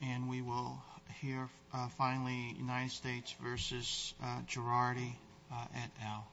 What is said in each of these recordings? And we will hear finally United States v. Girardi at now.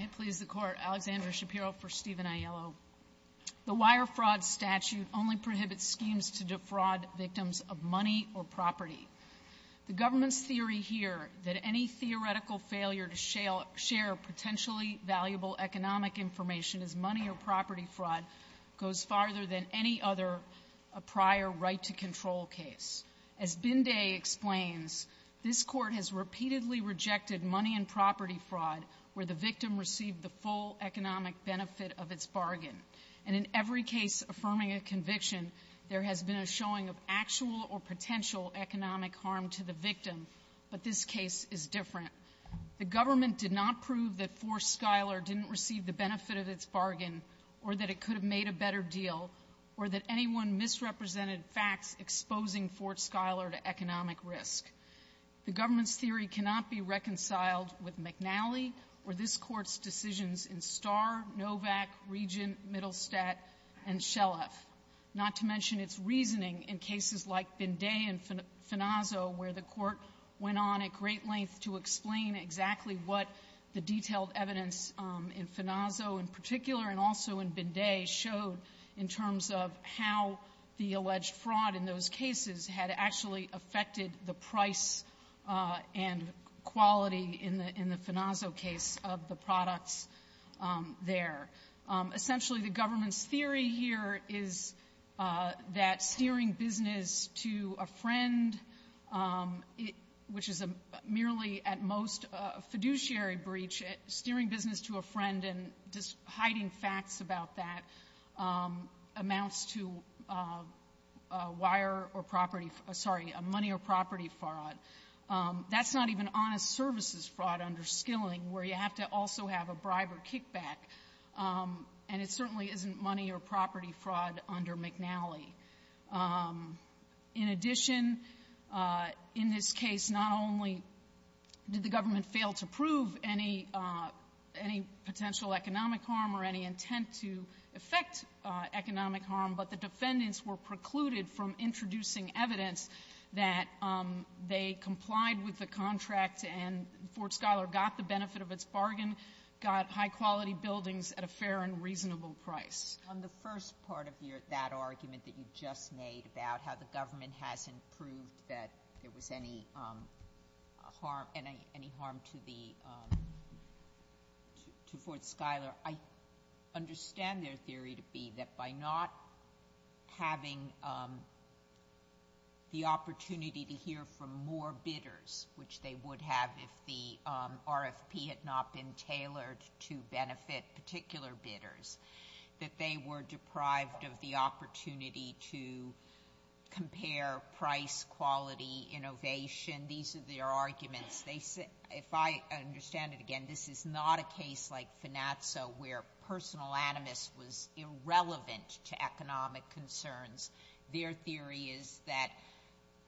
I please the court, Alexandra Shapiro for Stephen Aiello. The Wire Fraud Statute only prohibits schemes to defraud victims of money or property. The government's theory here that any theoretical failure to share potentially valuable economic information as money or property fraud goes farther than any other prior right-to-control case. As Binday explains, this Court has repeatedly rejected money and property fraud where the victim received the full economic benefit of its bargain. And in every case affirming a conviction, there has been a showing of actual or potential economic harm to the victim, but this case is different. The government did not prove that Fort Schuyler didn't receive the benefit of its bargain or that it could have made a better deal or that anyone misrepresented facts exposing Fort Schuyler to economic risk. The government's theory cannot be reconciled with McNally or this Court's decisions in Starr, Novak, Regent, Mittelstadt, and Shelef, not to mention its reasoning in cases like this. I can't explain exactly what the detailed evidence in Finazo in particular and also in Binday showed in terms of how the alleged fraud in those cases had actually affected the price and quality in the Finazo case of the products there. Essentially, the government's theory here is that steering business to a friend, which is merely at most a fiduciary breach, steering business to a friend and just hiding facts about that amounts to money or property fraud. That's not even honest services fraud under Skilling where you have to also have a bribe or kickback, and it certainly isn't money or property fraud under McNally. In addition, in this case, not only did the government fail to prove any potential economic harm or any intent to affect economic harm, but the defendants were precluded from introducing evidence that they complied with the contract and Fort Schuyler got the benefit of its bargain, got high-quality buildings at a fair and reasonable price. On the first part of that argument that you just made about how the government hasn't proved that there was any harm to Fort Schuyler, I understand their theory to be that by not having the opportunity to hear from more bidders, which they would have if the RFP had not been they were deprived of the opportunity to compare price, quality, innovation. These are their arguments. If I understand it again, this is not a case like Finanzo where personal animus was irrelevant to economic concerns. Their theory is that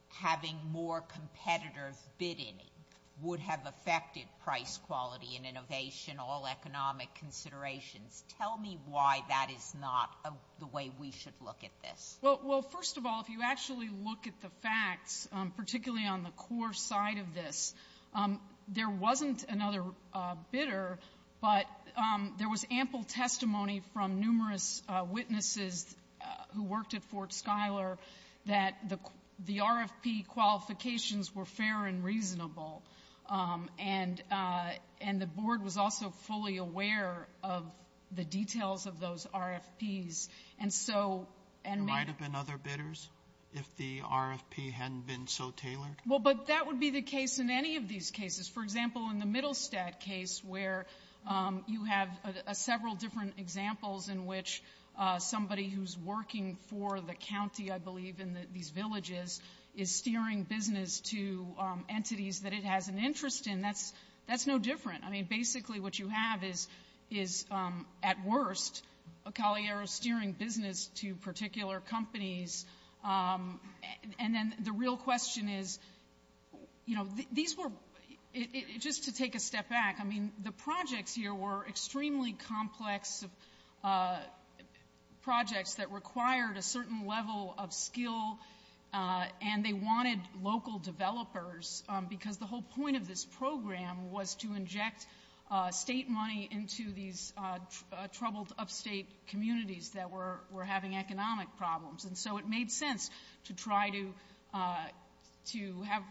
having more competitive bidding would have affected price, quality, and innovation, all economic considerations. Tell me why that is not the way we should look at this. Well, first of all, if you actually look at the facts, particularly on the core side of this, there wasn't another bidder, but there was ample testimony from numerous witnesses who worked at Fort Schuyler that the RFP qualifications were fair and reasonable, and the board was also fully aware of the details of those RFPs. And so— There might have been other bidders if the RFP hadn't been so tailored? Well, but that would be the case in any of these cases. For example, in the Middlestadt case where you have several different examples in which somebody who's working for the county, I believe, in these villages, is steering business to entities that it has an interest in, that's no different. I mean, basically what you have is, at worst, a Caliero steering business to particular companies, and then the real question is, you know, these were—just to take a step back, I mean, the projects here were extremely complex projects that required a certain level of skill, and they wanted local developers, because the whole point of this program was to inject state money into these troubled upstate communities that were having economic problems. And so it made sense to try to have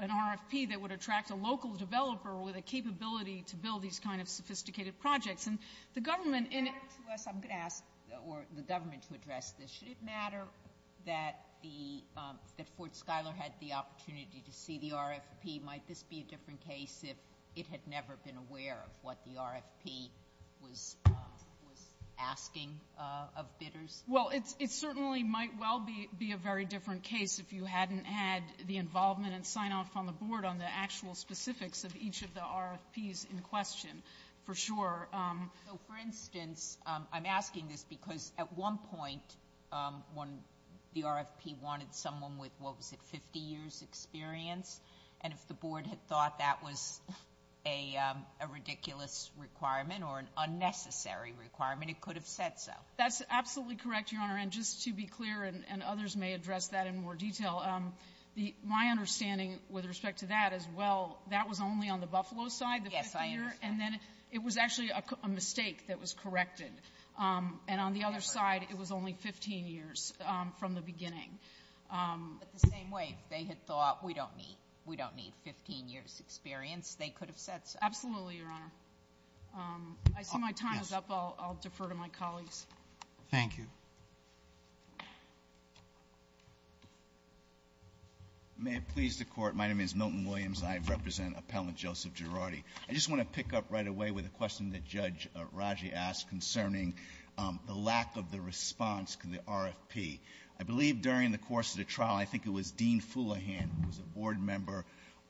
an RFP that would attract a local developer with a capability to build these kind of sophisticated projects. And the government— Back to us, I'm going to ask—or the government to address this. Should it matter that Fort Schuyler had the opportunity to see the RFP? Might this be a different case if it had never been aware of what the RFP was asking of bidders? Well, it certainly might well be a very different case if you hadn't had the involvement and sign-off on the board on the actual specifics of each of the RFPs in question, for sure. So, for instance, I'm asking this because, at one point, when the RFP wanted someone with, what was it, 50 years' experience, and if the board had thought that was a ridiculous requirement or an unnecessary requirement, it could have said so. That's absolutely correct, Your Honor, and just to be clear, and others may address that in more detail, my understanding with respect to that is, well, that was only on the Buffalo side, the 50-year, and then it was actually a mistake that was corrected. And on the other side, it was only 15 years from the beginning. But the same way, if they had thought we don't need 15 years' experience, they could have said so. Absolutely, Your Honor. I see my time is up. I'll defer to my colleagues. Thank you. May it please the Court. My name is Milton Williams. I represent Appellant Joseph Girardi. I just want to pick up right away with a question that Judge Raji asked concerning the lack of the response to the RFP. I believe during the course of the trial, I think it was Dean Fulohan, who was a board member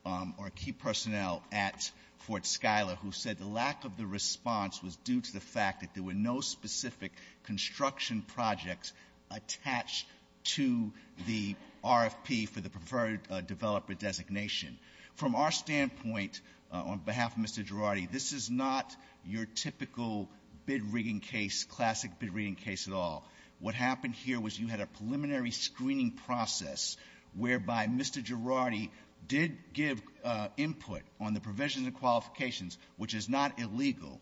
or key personnel at Fort Schuyler, who said the lack of the response was due to the fact that there were no specific construction projects attached to the RFP for the preferred developer designation. From our standpoint, on behalf of Mr. Girardi, this is not your typical bid rigging case, classic bid rigging case at all. What happened here was you had a preliminary screening process whereby Mr. Girardi did give input on the provisions and qualifications, which is not illegal.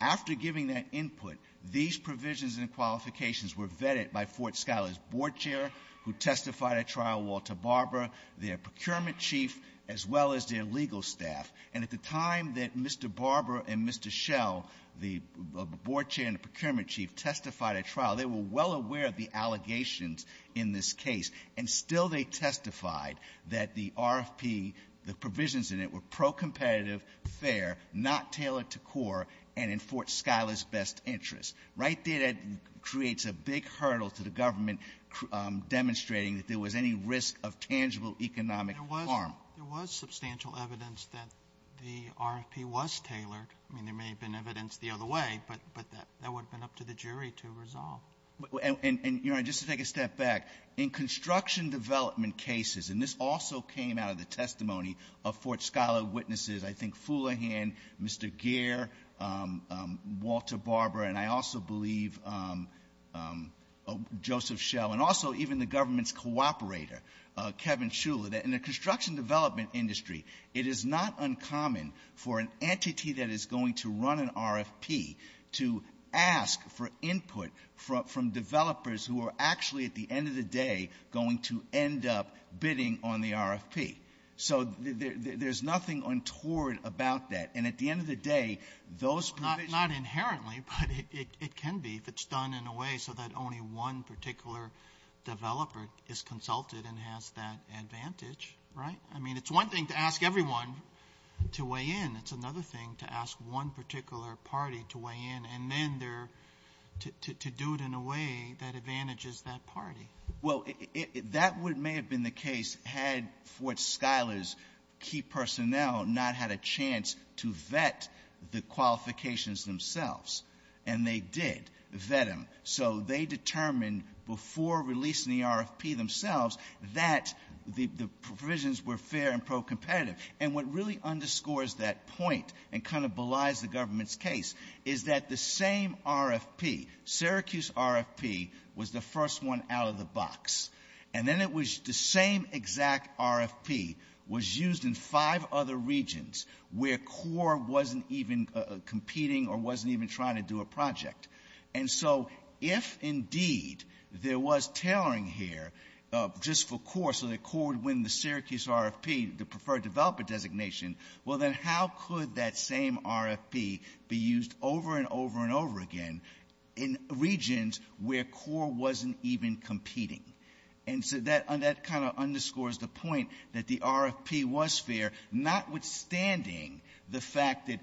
After giving that input, these provisions and qualifications were vetted by Fort Schuyler's procurement chief as well as their legal staff. And at the time that Mr. Barber and Mr. Schell, the board chair and the procurement chief, testified at trial, they were well aware of the allegations in this case, and still they testified that the RFP, the provisions in it were pro-competitive, fair, not tailored to core, and in Fort Schuyler's best interest. Right there, that creates a big hurdle to the government demonstrating that there was any risk of tangible economic harm. There was substantial evidence that the RFP was tailored. I mean, there may have been evidence the other way, but that would have been up to the jury to resolve. And, Your Honor, just to take a step back, in construction development cases, and this also came out of the testimony of Fort Schuyler witnesses, I think Foulihan, Mr. Gair, Walter Barber, and I also believe Joseph Schell, and also even the government's co-operator, Kevin Schuller, that in the construction development industry, it is not uncommon for an entity that is going to run an RFP to ask for input from developers who are actually, at the end of the day, going to end up bidding on the RFP. So there's nothing untoward about that. And at the end of the day, those provisions not inherently, but it can be if it's done in a way so that only one particular developer is consulted and has that advantage, right? I mean, it's one thing to ask everyone to weigh in. It's another thing to ask one particular party to weigh in, and then to do it in a way that advantages that party. Well, that may have been the case had Fort Schuyler's key personnel not had a chance to vet the qualifications themselves. And they did vet them. So they determined before releasing the RFP themselves that the provisions were fair and pro-competitive. And what really underscores that point and kind of belies the government's case is that the same RFP, Syracuse RFP, was the first one out of the box. And then it was the same exact RFP was used in five other regions where CORE wasn't even competing or wasn't even trying to do a project. And so if, indeed, there was tailoring here just for CORE so that CORE would win the Syracuse RFP, the preferred developer designation, well, then how could that same RFP be used over and over and over again in regions where CORE wasn't even competing? And so that kind of underscores the point that the RFP was fair, notwithstanding the fact that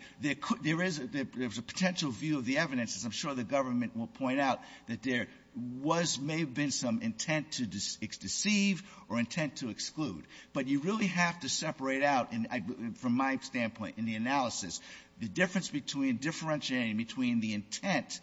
there is a potential view of the evidence, as I'm sure the government will point out, that there was or may have been some intent to deceive or intent to exclude. But you really have to separate out, from my standpoint in the analysis, the difference between differentiating between the intent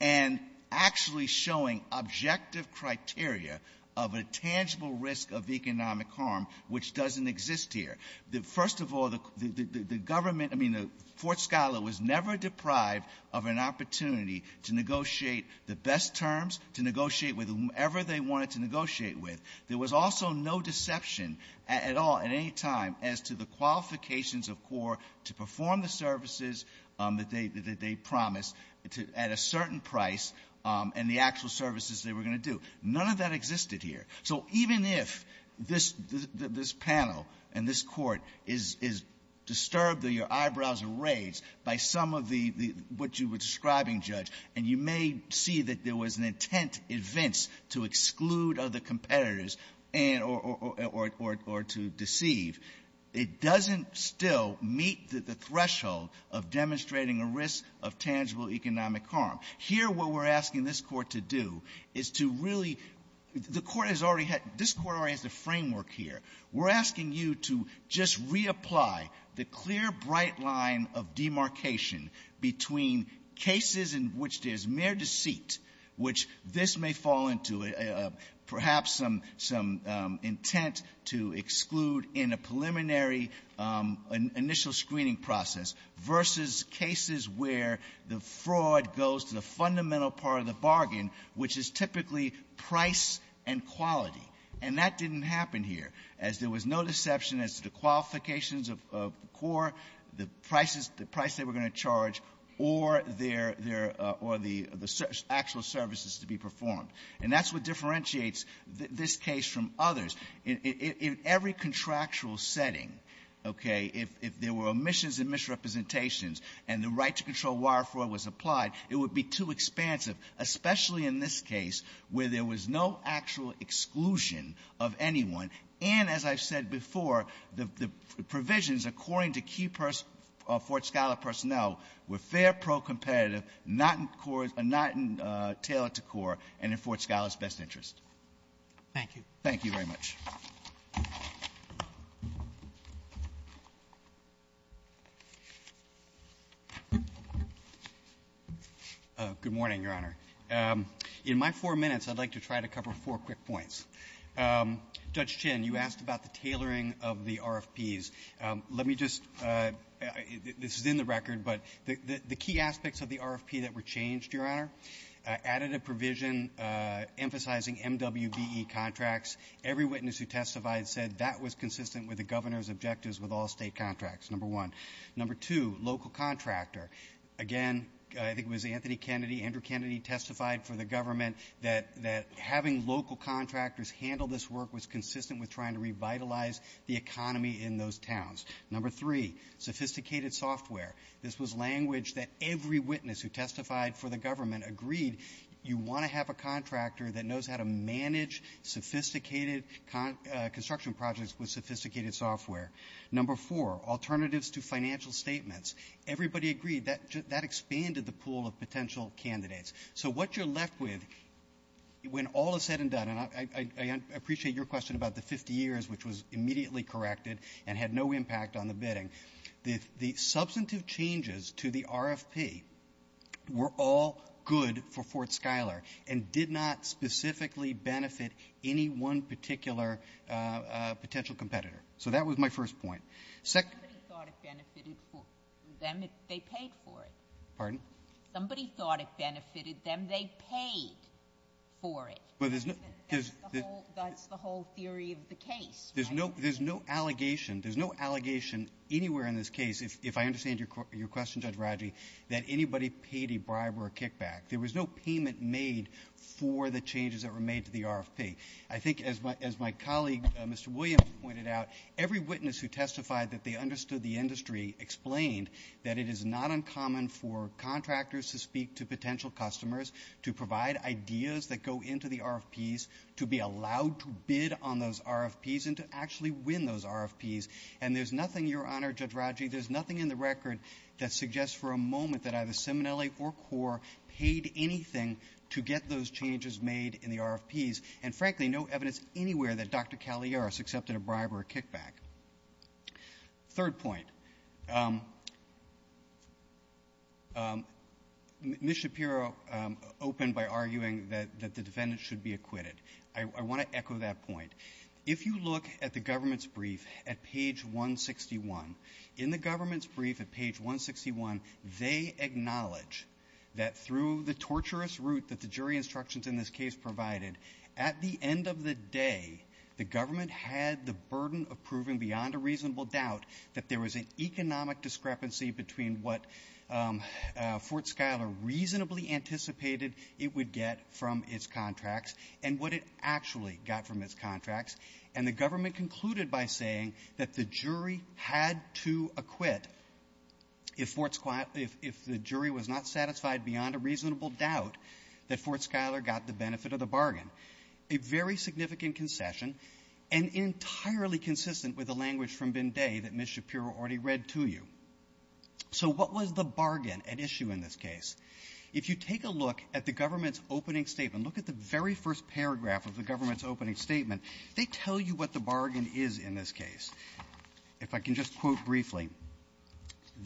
and actually showing objective criteria of a tangible risk of economic harm which doesn't exist here. First of all, the government, I mean, Fort Schuyler was never deprived of an opportunity to negotiate the best terms, to negotiate with whomever they wanted to negotiate with. There was also no deception at all at any time as to the qualifications of CORE to perform the services that they promised at a certain price and the actual services they were going to do. None of that existed here. So even if this panel and this court is disturbed or your eyebrows are raised by some of the what you were describing, Judge, and you may see that there was an intent, to exclude other competitors and or to deceive, it doesn't still meet the threshold of demonstrating a risk of tangible economic harm. Here, what we're asking this Court to do is to really the Court has already had, this Court already has the framework here. We're asking you to just reapply the clear, bright line of demarcation between cases in which there's mere deceit, which this may fall into, perhaps some intent to exclude in a preliminary initial screening process, versus cases where the fraud goes to the fundamental part of the bargain, which is typically price and quality. And that didn't happen here, as there was no deception as to the actual services to be performed. And that's what differentiates this case from others. In every contractual setting, okay, if there were omissions and misrepresentations and the right to control wire fraud was applied, it would be too expansive, especially in this case where there was no actual exclusion of anyone. And as I've said before, the provisions, according to key Fort Scholar personnel, were fair, pro-competitive, not in core or not tailored to core, and in Fort Scholar's best interest. Thank you. Thank you very much. Good morning, Your Honor. In my four minutes, I'd like to try to cover four quick points. Judge Chin, you asked about the tailoring of the RFPs. Let me just – this is in the record, but the key aspects of the RFP that were changed, Your Honor, added a provision emphasizing MWBE contracts. Every witness who testified said that was consistent with the Governor's objectives with all State contracts, number one. Number two, local contractor. Again, I think it was Anthony Kennedy, Andrew Kennedy, testified for the government that having local contractors handle this work was consistent with trying to revitalize the economy in those towns. Number three, sophisticated software. This was language that every witness who testified for the government agreed you want to have a contractor that knows how to manage sophisticated construction projects with sophisticated software. Number four, alternatives to financial statements. Everybody agreed that that expanded the pool of potential candidates. So what you're left with, when all is said and done – and I appreciate your question about the 50 years, which was immediately corrected and had no impact on the bidding – the substantive changes to the RFP were all good for Fort Scholar and did not specifically benefit any one particular potential competitor. So that was my first point. Second – Somebody thought it benefited them if they paid for it. Pardon? Somebody thought it benefited them. They paid for it. But there's no – That's the whole theory of the case, right? There's no – there's no allegation – there's no allegation anywhere in this case, if I understand your question, Judge Rodger, that anybody paid a bribe or a kickback. There was no payment made for the changes that were made to the RFP. I think, as my colleague, Mr. Williams, pointed out, every witness who testified that they understood the industry explained that it is not uncommon for contractors to speak to potential customers to provide ideas that go into the RFPs, to be allowed to bid on those RFPs and to actually win those RFPs. And there's nothing, Your Honor, Judge Rodger, there's nothing in the record that suggests for a moment that either Seminelli or CORE paid anything to get those changes made in the RFPs. And frankly, no evidence anywhere that Dr. Cagliaris accepted a bribe or a kickback. Third point. Ms. Shapiro opened by arguing that the defendant should be acquitted. I want to echo that point. If you look at the government's brief at page 161, in the government's brief at page 161, they acknowledge that through the torturous route that the jury instructions in this case provided, at the end of the day, the government had the burden of proving beyond a reasonable doubt that there was an economic discrepancy between what Fort Schuyler reasonably anticipated it would get from its contracts and what it actually got from its contracts. And the government concluded by saying that the jury had to acquit if the jury was not a very significant concession and entirely consistent with the language from Bin Day that Ms. Shapiro already read to you. So what was the bargain at issue in this case? If you take a look at the government's opening statement, look at the very first paragraph of the government's opening statement, they tell you what the bargain is in this case. If I can just quote briefly,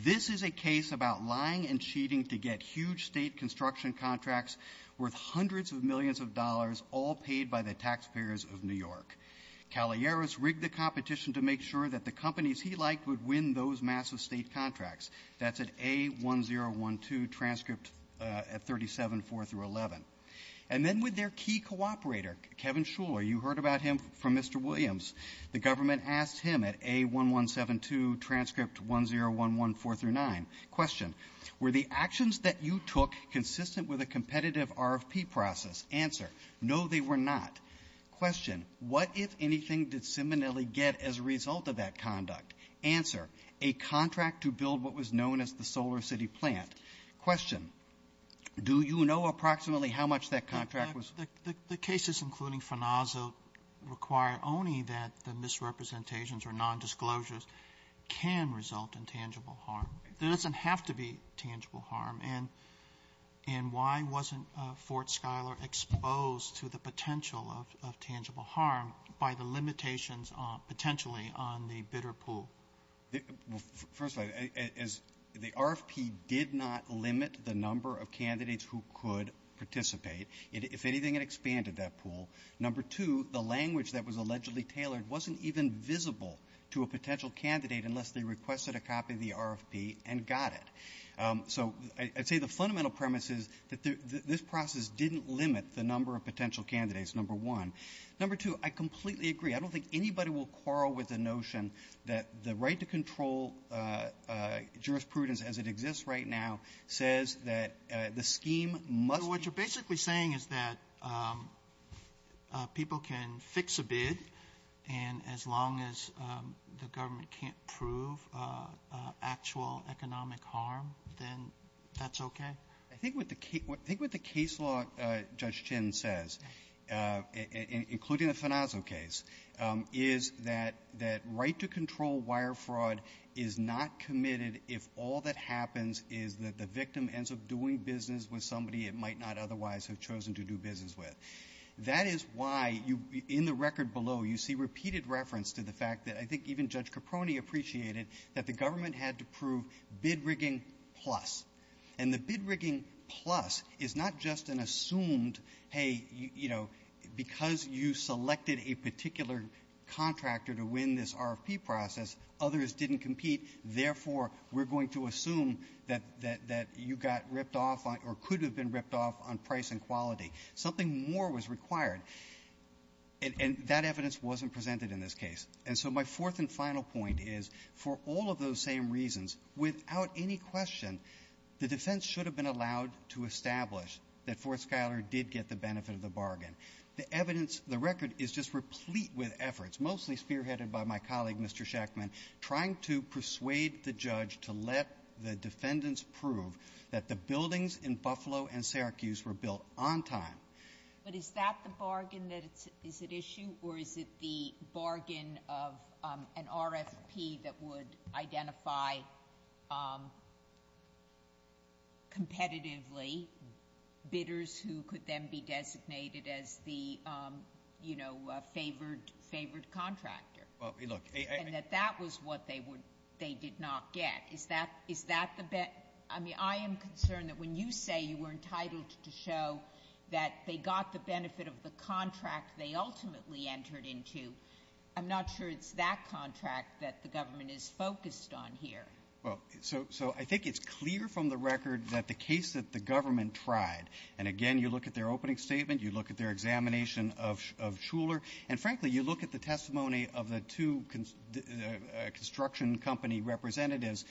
this is a case about lying and cheating to get huge state construction contracts worth hundreds of millions of dollars all paid by the taxpayers of New York. Cagliaris rigged the competition to make sure that the companies he liked would win those massive state contracts. That's at A1012 transcript at 37-4-11. And then with their key cooperator, Kevin Schuyler, you heard about him from Mr. Williams, the government asked him at A1172 transcript 1011-4-9, question, were the actions that you took consistent with a competitive RFP process? Answer, no, they were not. Question, what, if anything, did Simonelli get as a result of that conduct? Answer, a contract to build what was known as the SolarCity plant. Question, do you know approximately how much that contract was? The cases, including Fanazzo, require only that the misrepresentations or nondisclosures can result in tangible harm. There doesn't have to be tangible harm. And why wasn't Fort Schuyler exposed to the potential of tangible harm by the limitations potentially on the bidder pool? First of all, the RFP did not limit the number of candidates who could participate. If anything, it expanded that pool. Number two, the language that was allegedly tailored wasn't even visible to a potential candidate unless they requested a copy of the RFP and got it. So I'd say the fundamental premise is that this process didn't limit the number of potential candidates, number one. Number two, I completely agree. I don't think anybody will quarrel with the notion that the right to control jurisprudence as it exists right now says that the scheme must be What you're saying is that people can fix a bid, and as long as the government can't prove actual economic harm, then that's okay? I think what the case law, Judge Chin says, including the Fanazzo case, is that right to control wire fraud is not committed if all that happens is that the victim ends up doing business with somebody it might not otherwise have chosen to do business with. That is why, in the record below, you see repeated reference to the fact that I think even Judge Caproni appreciated that the government had to prove bid rigging plus. And the bid rigging plus is not just an assumed, hey, you know, because you selected a particular contractor to win this RFP process, others didn't compete, therefore, we're going to assume that you got ripped off or could have been ripped off on price and quality. Something more was required. And that evidence wasn't presented in this case. And so my fourth and final point is, for all of those same reasons, without any question, the defense should have been allowed to establish that Fort Schuyler did get the benefit of the bargain. The evidence, the record is just replete with efforts, mostly spearheaded by my colleague, Mr. Schachman, trying to persuade the judge to let the defendants prove that the buildings in Buffalo and Syracuse were built on time. But is that the bargain that is at issue, or is it the bargain of an RFP that would have favored, favored contractor? And that that was what they did not get. Is that the bet? I mean, I am concerned that when you say you were entitled to show that they got the benefit of the contract they ultimately entered into, I'm not sure it's that contract that the government is focused on here. Well, so I think it's clear from the record that the case that the government tried, and again you look at their opening statement, you look at their examination of Schuyler, and frankly, you look at the testimony of the two construction company representatives,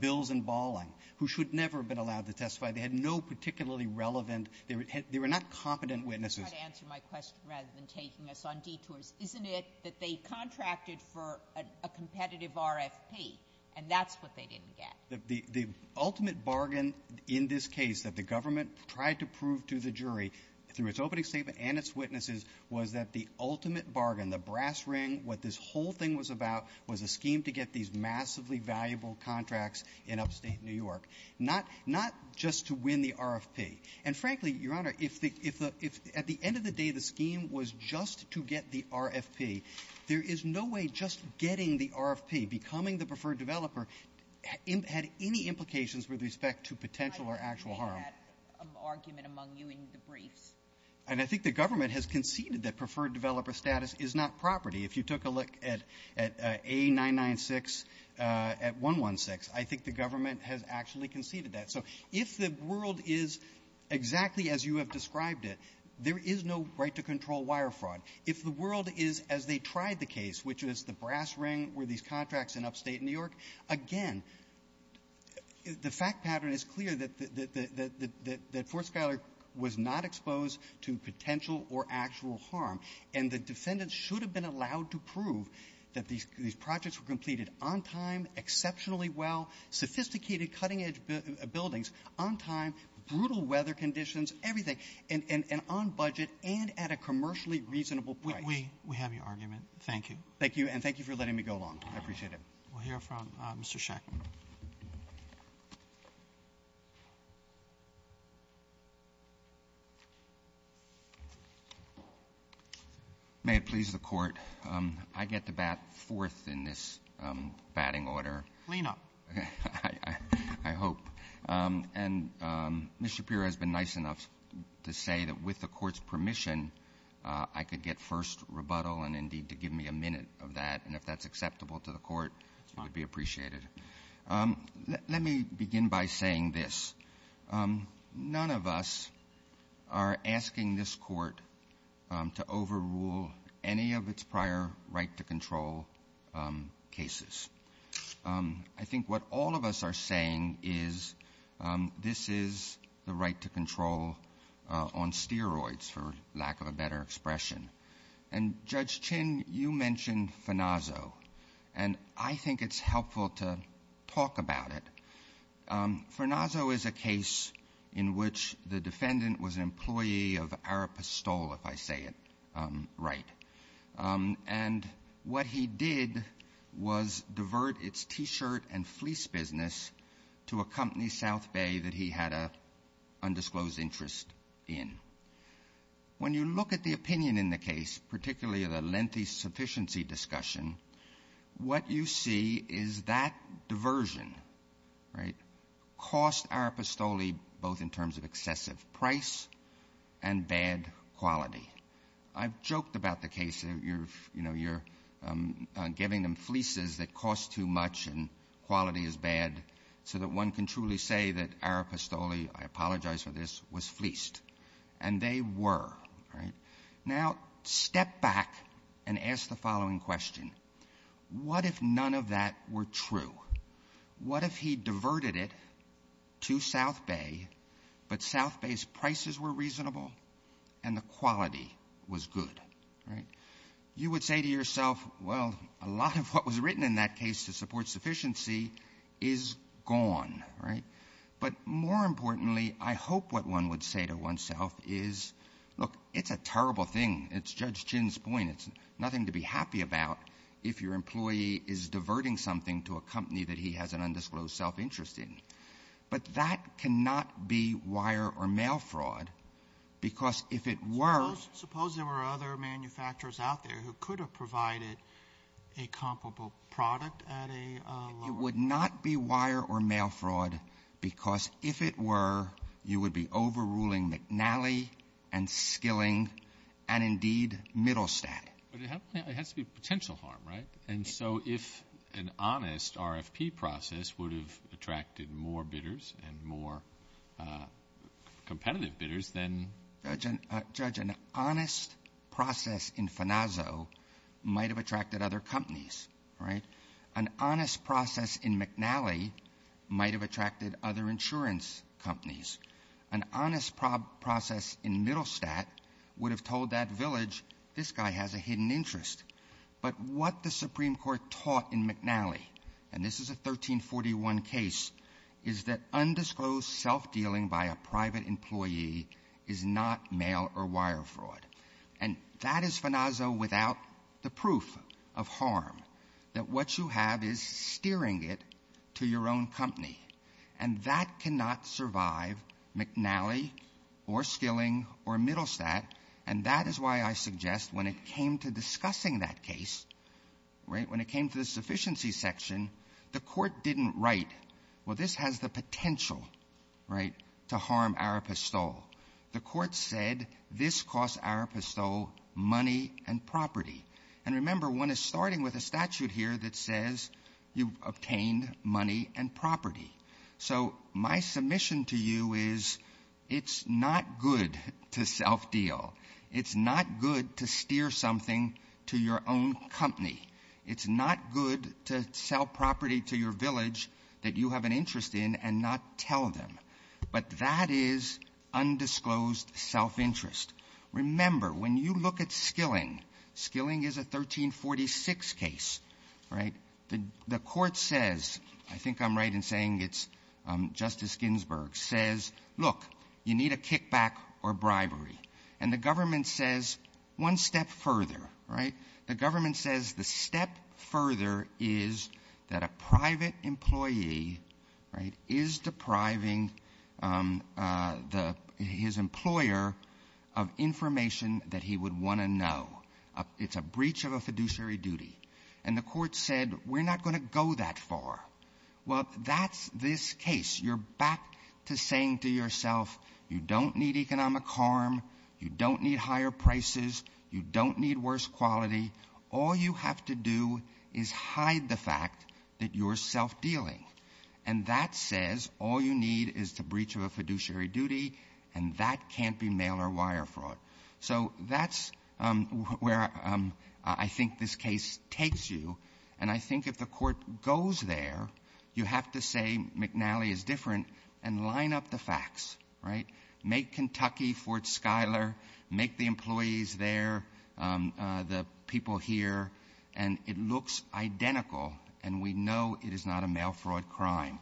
Bills and Balling, who should never have been allowed to testify. They had no particularly relevant, they were not competent witnesses. You're trying to answer my question rather than taking us on detours. Isn't it that they contracted for a competitive RFP, and that's what they didn't get? The ultimate bargain in this case that the government tried to prove to the jury through its opening statement and its witnesses was that the ultimate bargain, the brass ring, what this whole thing was about was a scheme to get these massively valuable contracts in upstate New York, not just to win the RFP. And frankly, Your Honor, if at the end of the day the scheme was just to get the RFP, there is no way just getting the RFP, becoming the preferred developer, had any implications with respect to potential or actual harm. And I think the government has conceded that preferred developer status is not property. If you took a look at A996 at 116, I think the government has actually conceded that. So if the world is exactly as you have described it, there is no right to control wire fraud. If the world is as they tried the case, which is the brass ring were these that Fort Schuyler was not exposed to potential or actual harm, and the defendants should have been allowed to prove that these projects were completed on time, exceptionally well, sophisticated, cutting-edge buildings, on time, brutal weather conditions, everything, and on budget and at a commercially reasonable price. We have your argument. Thank you. Thank you. And thank you for letting me go along. I appreciate it. We'll hear from Mr. Schack. May it please the Court. I get to bat fourth in this batting order. Lean up. I hope. And Mr. Shapiro has been nice enough to say that with the Court's permission, I could get first rebuttal and, indeed, to give me a minute of that. And if that's acceptable to the Court, it would be appreciated. Let me begin by saying this. None of us are asking this Court to overrule any of its prior right-to-control cases. I think what all of us are saying is this is the right to control on steroids, for lack of a better expression. And, Judge Chin, you mentioned Farnazzo. And I think it's helpful to talk about it. Farnazzo is a case in which the defendant was an employee of Arapastol, if I say it right. And what he did was divert its T-shirt and fleece business to a company, South Bay, that he had an undisclosed interest in. When you look at the opinion in the case, particularly the lengthy sufficiency discussion, what you see is that diversion, right, cost Arapastoli both in terms of excessive price and bad quality. I've joked about the case that, you know, you're giving them fleeces that cost too much and quality is bad, so that one can truly say that Arapastoli, I apologize for this, was fleeced. And they were, right? Now, step back and ask the following question. What if none of that were true? What if he diverted it to South Bay, but South Bay's prices were reasonable and the quality was good, right? You would say to yourself, well, a lot of what was written in that case to support sufficiency is gone, right? But more importantly, I hope what one would say to oneself is, look, it's a terrible thing. It's Judge Chin's point. It's nothing to be happy about if your employee is diverting something to a company that he has an undisclosed self-interest in. But that cannot be wire or mail fraud, because if it were ‑‑ a comparable product at a lower ‑‑ It would not be wire or mail fraud, because if it were, you would be overruling McNally and Skilling and, indeed, Middlestadt. But it has to be potential harm, right? And so if an honest RFP process would have attracted more bidders and more competitive bidders, then ‑‑ Judge, an honest process in Fanazo might have attracted other companies, right? An honest process in McNally might have attracted other insurance companies. An honest process in Middlestadt would have told that village, this guy has a hidden interest. But what the Supreme Court taught in McNally, and this is a 1341 case, is that undisclosed self‑dealing by a private employee is not mail or wire fraud. And that is Fanazo without the proof of harm, that what you have is steering it to your own company. And that cannot survive McNally or Skilling or Middlestadt. And that is why I suggest when it came to discussing that case, right, when it came to the sufficiency section, the court didn't write, well, this has the potential, right, to harm our pistole. The court said this costs our pistole money and property. And remember, one is starting with a statute here that says you've obtained money and property. So my submission to you is it's not good to self‑deal. It's not good to steer something to your own company. It's not good to sell property to your village that you have an interest in and not tell them. But that is undisclosed self‑interest. Remember, when you look at Skilling, Skilling is a 1346 case, right. The court says, I think I'm right in saying it's Justice Ginsburg, says, look, you need a kickback or bribery. And the government says one step further, right. The government says the step further is that a private employee, right, is depriving his employer of information that he would want to know. It's a breach of a fiduciary duty. And the court said, we're not going to go that far. Well, that's this case. You're back to saying to yourself, you don't need economic harm. You don't need higher prices. You don't need worse quality. All you have to do is hide the fact that you're self‑dealing. And that says all you need is the breach of a fiduciary duty, and that can't be mail or wire fraud. So that's where I think this case takes you. And I think if the court goes there, you have to say McNally is different and line up the facts, right. Make Kentucky Fort Schuyler. Make the employees there, the people here. And it looks identical, and we know it is not a mail fraud crime.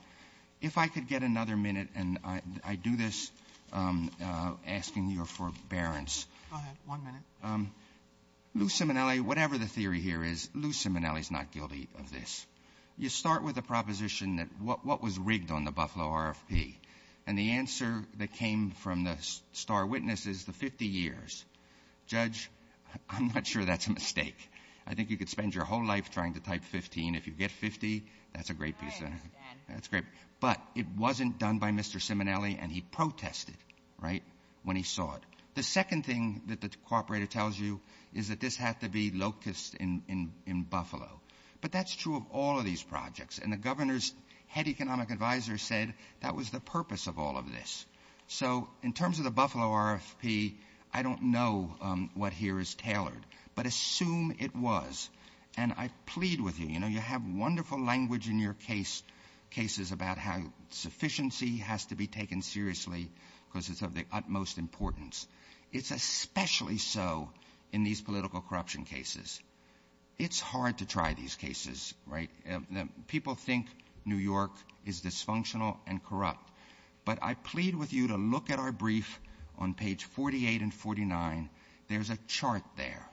If I could get another minute, and I do this asking your forbearance. Go ahead. One minute. Lou Simonelli, whatever the theory here is, Lou Simonelli is not guilty of this. You start with a proposition that what was rigged on the Buffalo RFP. And the answer that came from the star witness is the 50 years. Judge, I'm not sure that's a mistake. I think you could spend your whole life trying to type 15. If you get 50, that's a great piece. I understand. That's great. But it wasn't done by Mr. Simonelli, and he protested, right, when he saw it. The second thing that the cooperator tells you is that this had to be locust in Buffalo. But that's true of all of these projects. And the governor's head economic advisor said that was the purpose of all of this. So in terms of the Buffalo RFP, I don't know what here is tailored. But assume it was. And I plead with you. You know, you have wonderful language in your cases about how sufficiency has to be taken seriously because it's of the utmost importance. It's especially so in these political corruption cases. It's hard to try these cases, right? People think New York is dysfunctional and corrupt. But I plead with you to look at our brief on page 48 and 49. There's a chart there.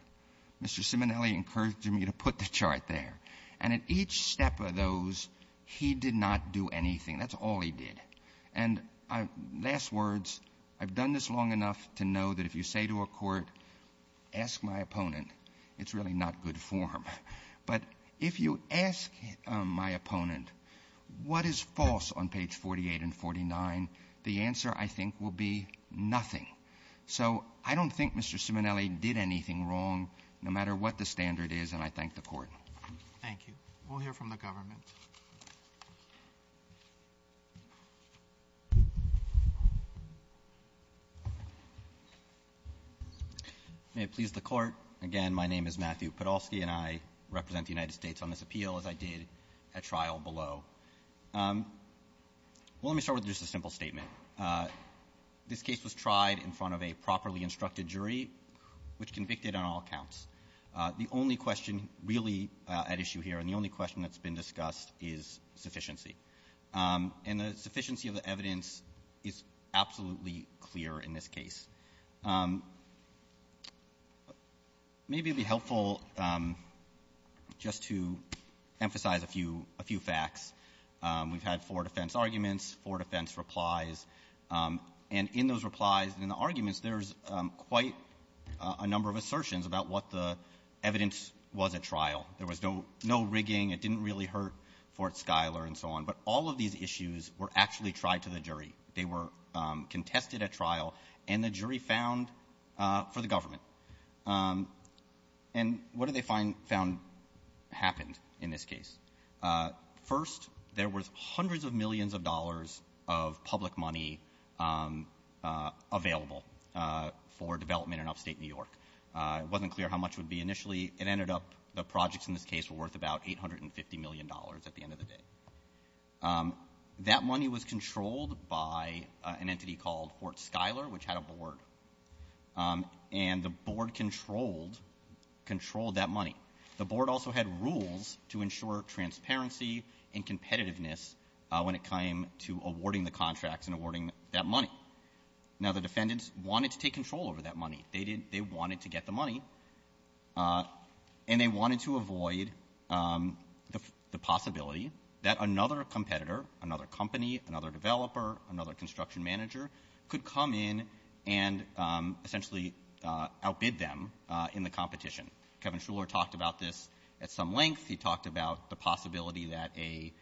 Mr. Simonelli encouraged me to put the chart there. And at each step of those, he did not do anything. That's all he did. And last words, I've done this long enough to know that if you say to a court, ask my opponent, it's really not good form. But if you ask my opponent, what is false on page 48 and 49, the answer, I think, will be nothing. So I don't think Mr. Simonelli did anything wrong, no matter what the standard is, and I thank the court. Thank you. We'll hear from the government. May it please the court. Again, my name is Matthew Podolsky, and I represent the United States on this appeal, as I did at trial below. Well, let me start with just a simple statement. This case was tried in front of a properly instructed jury, which convicted on all counts. The only question really at issue here and the only question that's been discussed is sufficiency. And the sufficiency of the evidence is absolutely clear in this case. Maybe it would be helpful just to emphasize a few facts. We've had four defense arguments, four defense replies. And in those replies and in the arguments, there's quite a number of assertions about what the evidence was at trial. There was no rigging. It didn't really hurt Fort Schuyler and so on. But all of these issues were actually tried to the jury. They were contested at trial, and the jury found for the government. And what did they find happened in this case? First, there was hundreds of millions of dollars of public money available for development in upstate New York. It wasn't clear how much it would be initially. It ended up the projects in this case were worth about $850 million at the end of the day. That money was controlled by an entity called Fort Schuyler, which had a board. And the board controlled that money. The board also had rules to ensure transparency and competitiveness when it came to awarding the contracts and awarding that money. Now, the defendants wanted to take control over that money. They wanted to get the money, and they wanted to avoid the possibility that another competitor, another company, another developer, another construction manager, could come in and essentially outbid them in the competition. Kevin Schuyler talked about this at some length. He talked about the possibility that a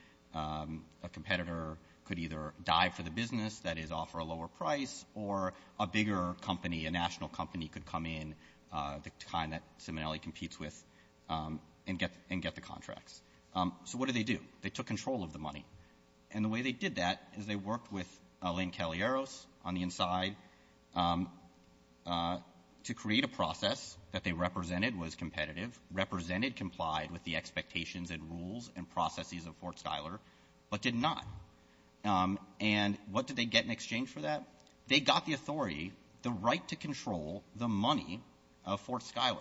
competitor could either die for the business, that is, offer a lower price, or a bigger company, a national company, could come in, the kind that Simonelli competes with, and get the contracts. So what did they do? They took control of the money. And the way they did that is they worked with Lynn Cagliaros on the inside to create a process that they represented was competitive, represented, complied with the expectations and rules and processes of Fort Schuyler, but did not. And what did they get in exchange for that? They got the authority, the right to control the money of Fort Schuyler.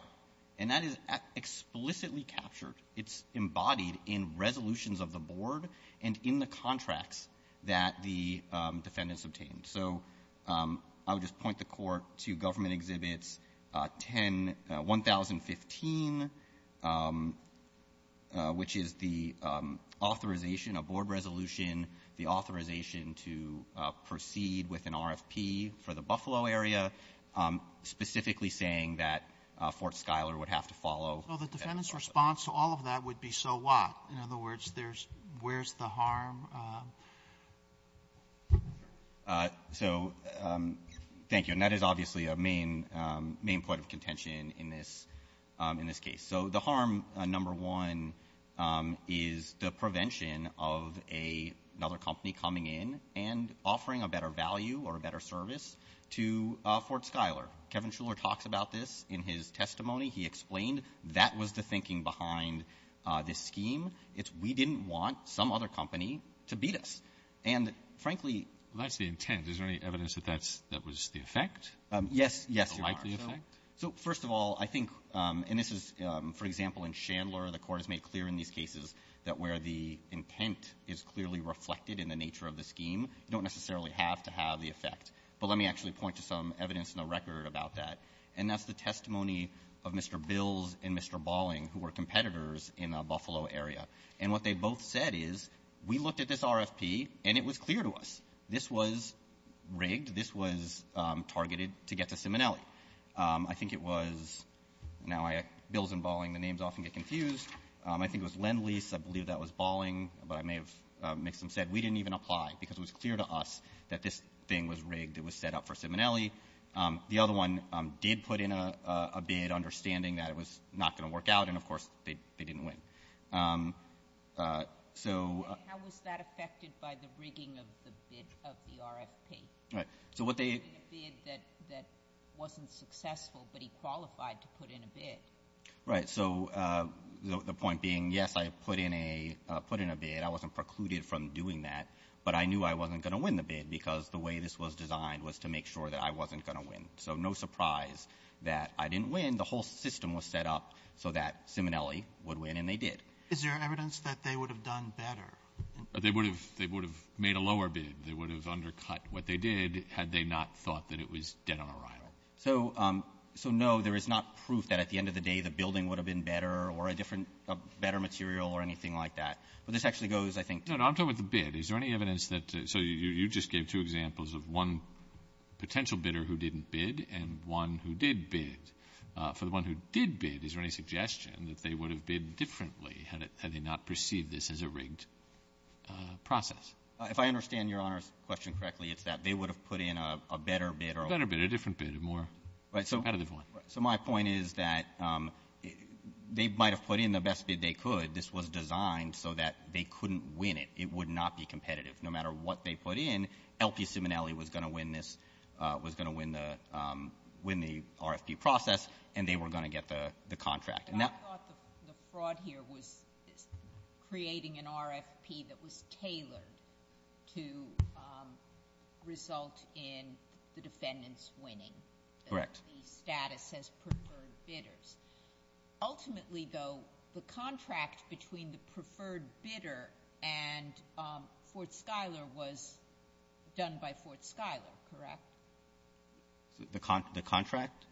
And that is explicitly captured. It's embodied in resolutions of the board and in the contracts that the defendants obtained. So I would just point the court to Government Exhibits 1015, which is the authorization, a board resolution, the authorization to proceed with an RFP for the Buffalo area, specifically saying that Fort Schuyler would have to follow. So the defendant's response to all of that would be so what? In other words, where's the harm? So thank you. And that is obviously a main point of contention in this case. So the harm, number one, is the prevention of another company coming in and offering a better value or a better service to Fort Schuyler. Kevin Shuler talks about this in his testimony. He explained that was the thinking behind this scheme. It's we didn't want some other company to beat us. And, frankly ---- Well, that's the intent. Is there any evidence that that's the effect? Yes, there are. The likely effect? So, first of all, I think, and this is, for example, in Chandler, the court has made clear in these cases that where the intent is clearly reflected in the nature of the scheme, you don't necessarily have to have the effect. But let me actually point to some evidence in the record about that. And that's the testimony of Mr. Bills and Mr. Bolling, who were competitors in the Buffalo area. And what they both said is, we looked at this RFP, and it was clear to us this was rigged, this was targeted to get to Simonelli. I think it was ---- now, Bills and Bolling, the names often get confused. I think it was Lend-Lease. I believe that was Bolling. But I may have mixed them. Said we didn't even apply because it was clear to us that this thing was rigged. It was set up for Simonelli. The other one did put in a bid, understanding that it was not going to work out. And, of course, they didn't win. So ---- How was that affected by the rigging of the RFP? Right. So what they ---- A bid that wasn't successful, but he qualified to put in a bid. Right. So the point being, yes, I put in a bid. I wasn't precluded from doing that. But I knew I wasn't going to win the bid because the way this was designed was to make sure that I wasn't going to win. So no surprise that I didn't win. The whole system was set up so that Simonelli would win, and they did. Is there evidence that they would have done better? They would have made a lower bid. They would have undercut what they did had they not thought that it was dead on arrival. So, no, there is not proof that, at the end of the day, the building would have been better or a different ---- better material or anything like that. But this actually goes, I think ---- No, no, I'm talking about the bid. Is there any evidence that ---- so you just gave two examples of one potential bidder who didn't bid and one who did bid. For the one who did bid, is there any suggestion that they would have bid differently had they not perceived this as a rigged process? If I understand Your Honor's question correctly, it's that they would have put in a better bid or a ---- A better bid, a different bid, a more ---- Right. So my point is that they might have put in the best bid they could. This was designed so that they couldn't win it. It would not be competitive. No matter what they put in, LP Simonelli was going to win this, was going to win the RFP process, and they were going to get the contract. I thought the fraud here was creating an RFP that was tailored to result in the defendants winning. Correct. The status as preferred bidders. Ultimately, though, the contract between the preferred bidder and Fort Schuyler was done by Fort Schuyler, correct? The contract?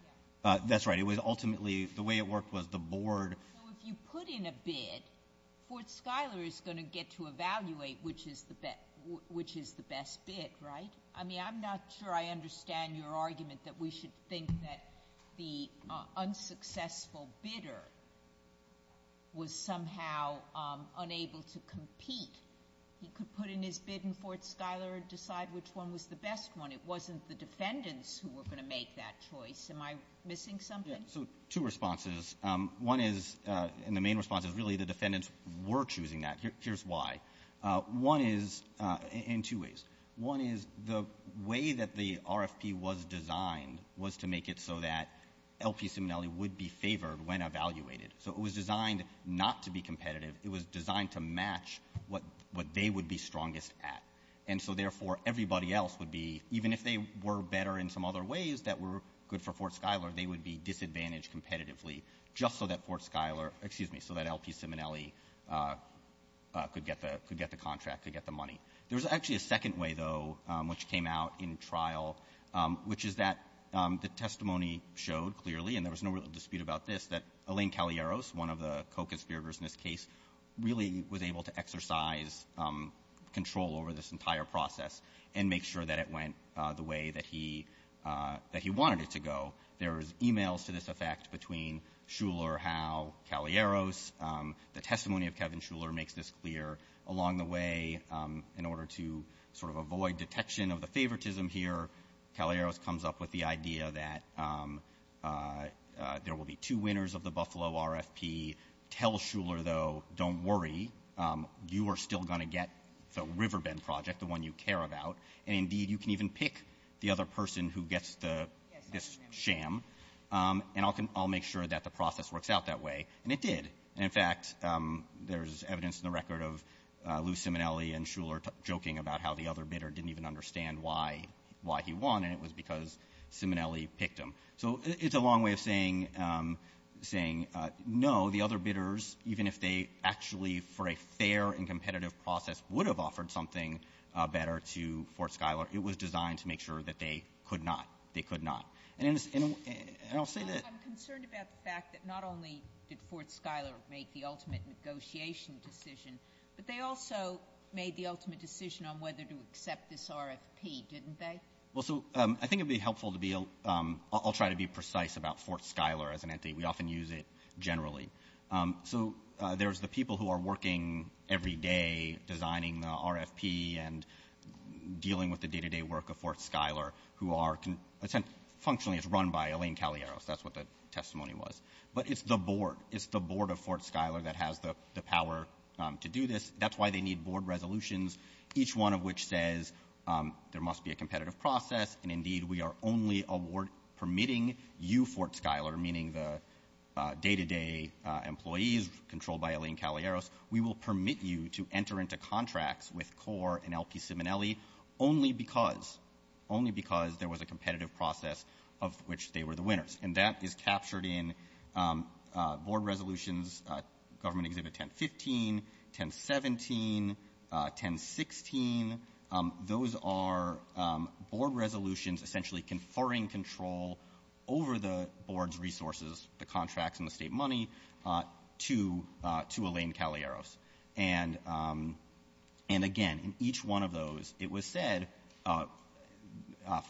Yes. That's right. It was ultimately the way it worked was the board ---- So if you put in a bid, Fort Schuyler is going to get to evaluate which is the best bid, right? I mean, I'm not sure I understand your argument that we should think that the unsuccessful bidder was somehow unable to compete. He could put in his bid in Fort Schuyler and decide which one was the best one. It wasn't the defendants who were going to make that choice. Am I missing something? Yes. So two responses. One is, and the main response is really the defendants were choosing that. Here's why. One is, in two ways. One is the way that the RFP was designed was to make it so that L.P. Simonelli would be favored when evaluated. So it was designed not to be competitive. It was designed to match what they would be strongest at. And so, therefore, everybody else would be, even if they were better in some other ways that were good for Fort Schuyler, they would be disadvantaged competitively just so that Fort Schuyler, excuse me, so that L.P. Simonelli could get the contract, could get the money. There was actually a second way, though, which came out in trial, which is that the testimony showed clearly, and there was no real dispute about this, that Alain Cagliaros, one of the co-conspirators in this case, really was able to exercise control over this entire process and make sure that it went the way that he wanted it to go. There was e-mails to this effect between Schuyler, Howe, Cagliaros. The testimony of Kevin Schuyler makes this clear. Along the way, in order to sort of avoid detection of the favoritism here, Cagliaros comes up with the idea that there will be two winners of the Buffalo RFP. Tell Schuyler, though, don't worry. You are still going to get the Riverbend project, the one you care about. And, indeed, you can even pick the other person who gets this sham. And I'll make sure that the process works out that way. And it did. In fact, there's evidence in the record of Lou Simonelli and Schuyler joking about how the other bidder didn't even understand why he won, and it was because Simonelli picked him. So it's a long way of saying, no, the other bidders, even if they actually, for a fair and competitive process, would have offered something better to Fort Schuyler, it was designed to make sure that they could not. They could not. And I'll say that... I'm concerned about the fact that not only did Fort Schuyler make the ultimate negotiation decision, but they also made the ultimate decision on whether to accept this RFP, didn't they? Well, so I think it would be helpful to be... I'll try to be precise about Fort Schuyler as an entity. We often use it generally. So there's the people who are working every day designing the RFP and dealing with the day-to-day work of Fort Schuyler, who are... Functionally, it's run by Elaine Cagliaros. That's what the testimony was. But it's the board. It's the board of Fort Schuyler that has the power to do this. That's why they need board resolutions, each one of which says there must be a competitive process, and, indeed, we are only permitting you, Fort Schuyler, meaning the day-to-day employees controlled by Elaine Cagliaros, we will permit you to enter into contracts with CORE and LP Simonelli only because there was a competitive process of which they were the winners. And that is captured in board resolutions, Government Exhibit 1015, 1017, 1016. Those are board resolutions essentially conferring control over the board's resources, the contracts and the state money, to Elaine Cagliaros. And, again, in each one of those, it was said,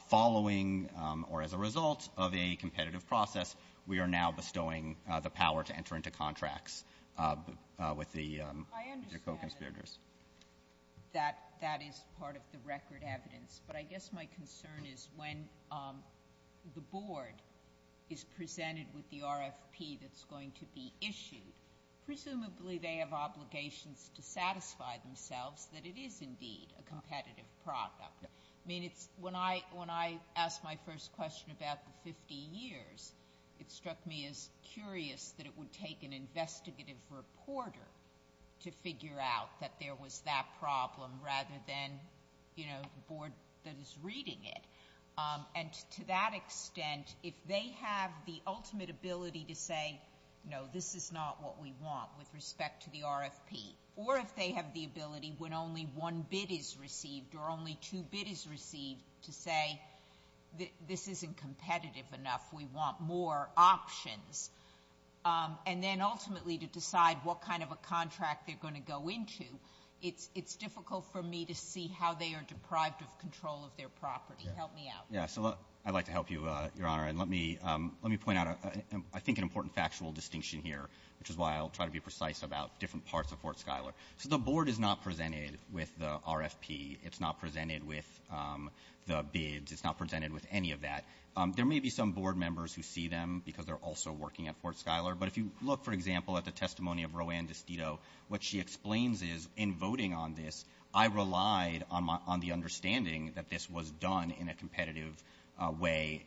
following or as a result of a competitive process, we are now bestowing the power to enter into contracts with the co-conspirators. I understand that that is part of the record evidence, but I guess my concern is when the board is presented with the RFP that's going to be issued, presumably they have obligations to satisfy themselves that it is, indeed, a competitive product. I mean, when I asked my first question about the 50 years, it struck me as curious that it would take an investigative reporter to figure out that there was that problem rather than, you know, the board that is reading it. And to that extent, if they have the ultimate ability to say, no, this is not what we want with respect to the RFP, or if they have the ability when only one bid is received or only two bid is received to say, this isn't competitive enough, we want more options, and then ultimately to decide what kind of a contract they're going to go into, it's difficult for me to see how they are deprived of control of their property. Help me out. Yeah, so I'd like to help you, Your Honor, and let me point out, I think, an important factual distinction here, which is why I'll try to be precise about different parts of Fort Schuyler. So the board is not presented with the RFP. It's not presented with the bids. It's not presented with any of that. There may be some board members who see them because they're also working at Fort Schuyler, but if you look, for example, at the testimony of Roanne DiStito, what she explains is, in voting on this, I relied on the understanding that this was done in a competitive way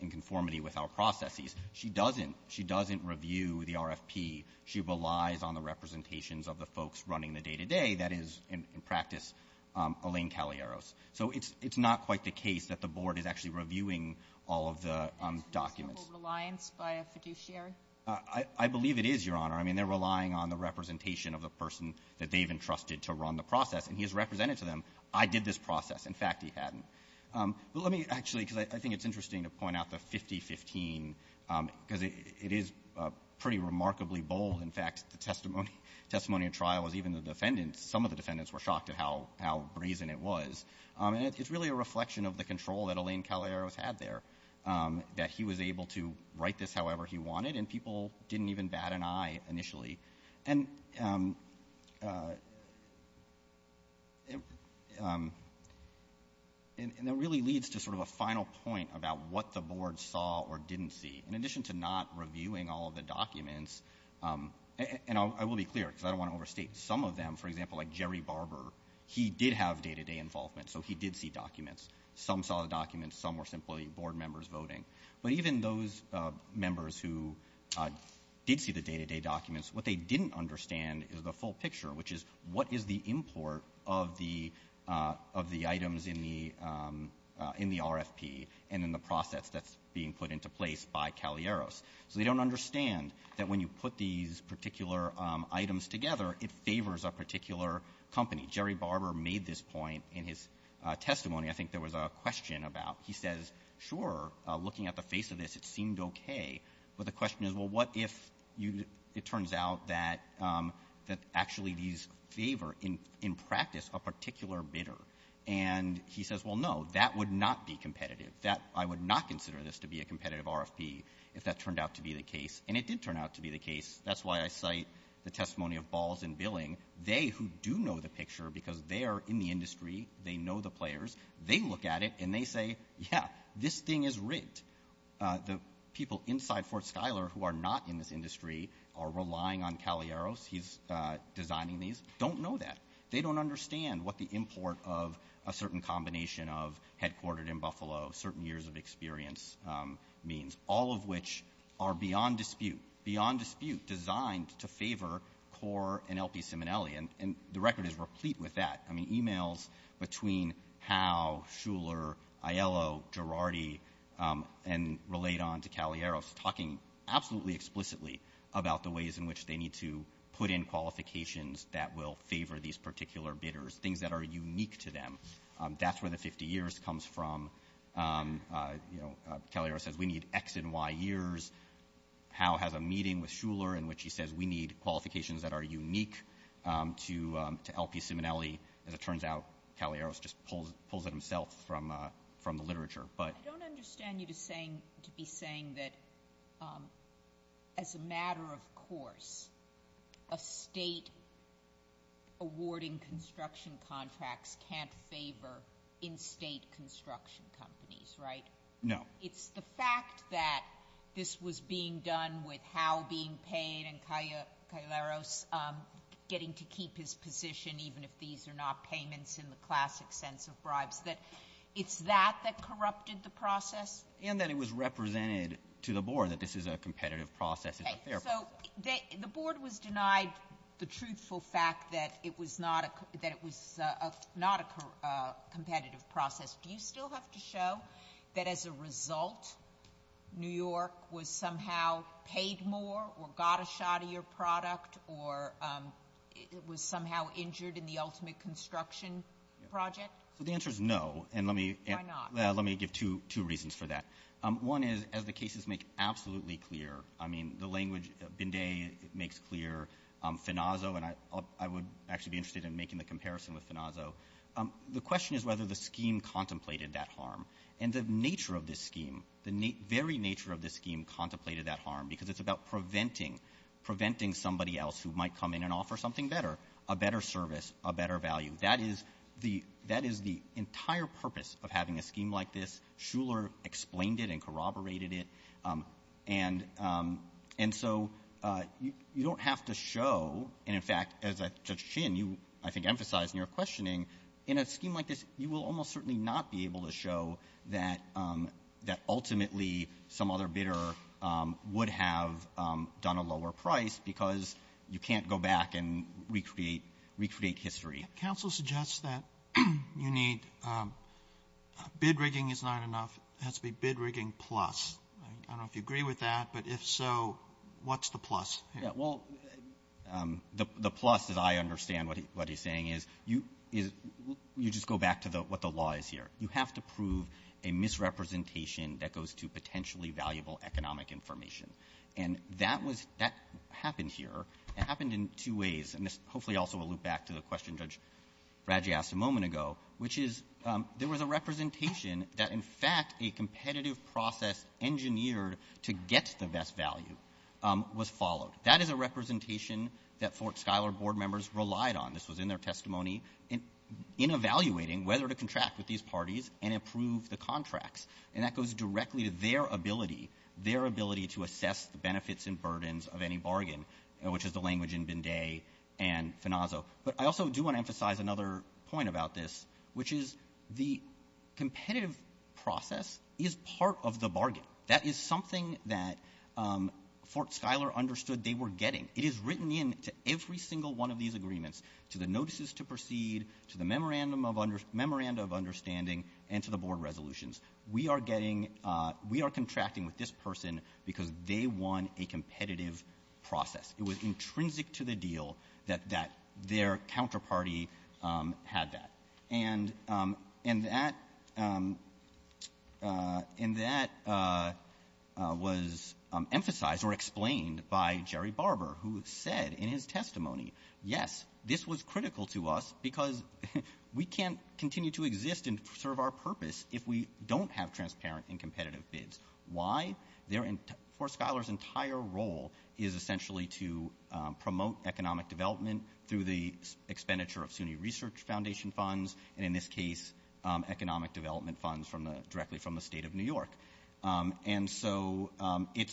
in conformity with our processes. She doesn't. She doesn't review the RFP. She relies on the representations of the folks running the day-to-day, that is, in practice, Elaine Cagliaros. So it's not quite the case that the board is actually reviewing all of the documents. MS. GOTTLIEB I believe it is, Your Honor. I mean, they're relying on the representation of the person that they've entrusted to run the process, and he has represented to them, I did this process. In fact, he hadn't. But let me actually, because I think it's interesting to point out the 50-15, because it is pretty remarkably bold. In fact, the testimony at trial was even the defendants, some of the defendants, were shocked at how brazen it was. And it's really a reflection of the control that Elaine Cagliaros had there, that he was able to write this however he wanted, and people didn't even bat an eye initially. And it really leads to sort of a final point about what the board saw or didn't see. In addition to not reviewing all of the documents, and I will be clear, because I don't want to overstate, some of them, for example, like Jerry Barber, he did have day-to-day involvement, so he did see documents. Some saw the documents. Some were simply board members voting. But even those members who did see the day-to-day documents, what they didn't understand is the full picture, which is what is the import of the items in the RFP and in the process that's being put into place by Cagliaros. So they don't understand that when you put these particular items together, it favors a particular company. Jerry Barber made this point in his testimony. I think there was a question about, he says, sure, looking at the face of this, it seemed okay. But the question is, well, what if it turns out that actually these favor, in practice, a particular bidder? And he says, well, no, that would not be competitive. That, I would not consider this to be a competitive RFP if that turned out to be the case. And it did turn out to be the case. That's why I cite the testimony of Balls and Billing. They, who do know the picture because they are in the industry, they know the players, they look at it and they say, yeah, this thing is rigged. The people inside Fort Schuyler who are not in this industry are relying on Cagliaros. He's designing these. Don't know that. They don't understand what the import of a certain combination of headquartered in Buffalo, certain years of experience means, all of which are beyond dispute, beyond dispute designed to favor CORE and LP Ciminelli. And the record is replete with that. I mean, e-mails between Howe, Schuyler, Aiello, Girardi, and Relaydon to Cagliaros, talking absolutely explicitly about the ways in which they need to put in qualifications that will favor these particular bidders, things that are unique to them. That's where the 50 years comes from. Cagliaros says we need X and Y years. Howe has a meeting with Schuyler in which he says we need qualifications that are unique to LP Ciminelli. As it turns out, Cagliaros just pulls it himself from the literature. I don't understand you to be saying that as a matter of course, a state awarding construction contracts can't favor in-state construction companies, right? No. It's the fact that this was being done with Howe being paid and Cagliaros getting to keep his position, even if these are not payments in the classic sense of bribes, that it's that that corrupted the process? And that it was represented to the board that this is a competitive process. So the board was denied the truthful fact that it was not a competitive process. Do you still have to show that as a result New York was somehow paid more or got a shot of your product or was somehow injured in the ultimate construction project? The answer is no. Why not? Let me give two reasons for that. One is, as the cases make absolutely clear, I mean, the language Binday makes clear, Finazzo, and I would actually be interested in making the comparison with Finazzo, the question is whether the scheme contemplated that harm. And the nature of this scheme, the very nature of this scheme, contemplated that harm because it's about preventing somebody else who might come in and offer something better, a better service, a better value. That is the entire purpose of having a scheme like this. Shuler explained it and corroborated it. And so you don't have to show. And, in fact, as Judge Chin, you, I think, emphasized in your questioning, in a scheme like this you will almost certainly not be able to show that ultimately some other bidder would have done a lower price because you can't go back and recreate history. Counsel suggests that you need, bid rigging is not enough. It has to be bid rigging plus. I don't know if you agree with that, but if so, what's the plus here? Well, the plus, as I understand what he's saying, is you just go back to what the law is here. You have to prove a misrepresentation that goes to potentially valuable economic information. And that happened here. It happened in two ways. And this hopefully also will loop back to the question Judge Radji asked a moment ago, which is there was a representation that, in fact, a competitive process engineered to get the best value was followed. That is a representation that Fort Schuyler board members relied on. This was in their testimony in evaluating whether to contract with these parties and approve the contracts. And that goes directly to their ability, their ability to assess the benefits and burdens of any bargain, which is the language in Binday and Finazzo. But I also do want to emphasize another point about this, which is the competitive process is part of the bargain. That is something that Fort Schuyler understood they were getting. It is written into every single one of these agreements, to the notices to proceed, to the memorandum of understanding, and to the board resolutions. We are contracting with this person because they won a competitive process. It was intrinsic to the deal that their counterparty had that. And that was emphasized or explained by Jerry Barber, who said in his testimony, yes, this was critical to us because we can't continue to exist and serve our purpose if we don't have transparent and competitive bids. Why? Fort Schuyler's entire role is essentially to promote economic development through the expenditure of SUNY Research Foundation funds, and in this case economic development funds directly from the state of New York. And so it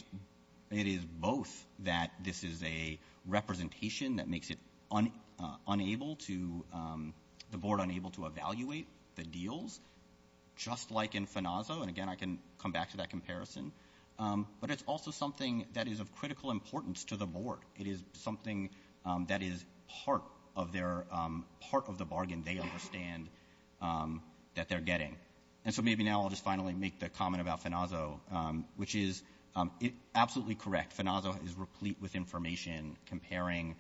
is both that this is a representation that makes it unable to, the board unable to evaluate the deals, just like in FNAZO. And, again, I can come back to that comparison. But it's also something that is of critical importance to the board. It is something that is part of the bargain they understand that they're getting. And so maybe now I'll just finally make the comment about FNAZO, which is absolutely correct. FNAZO is replete with information comparing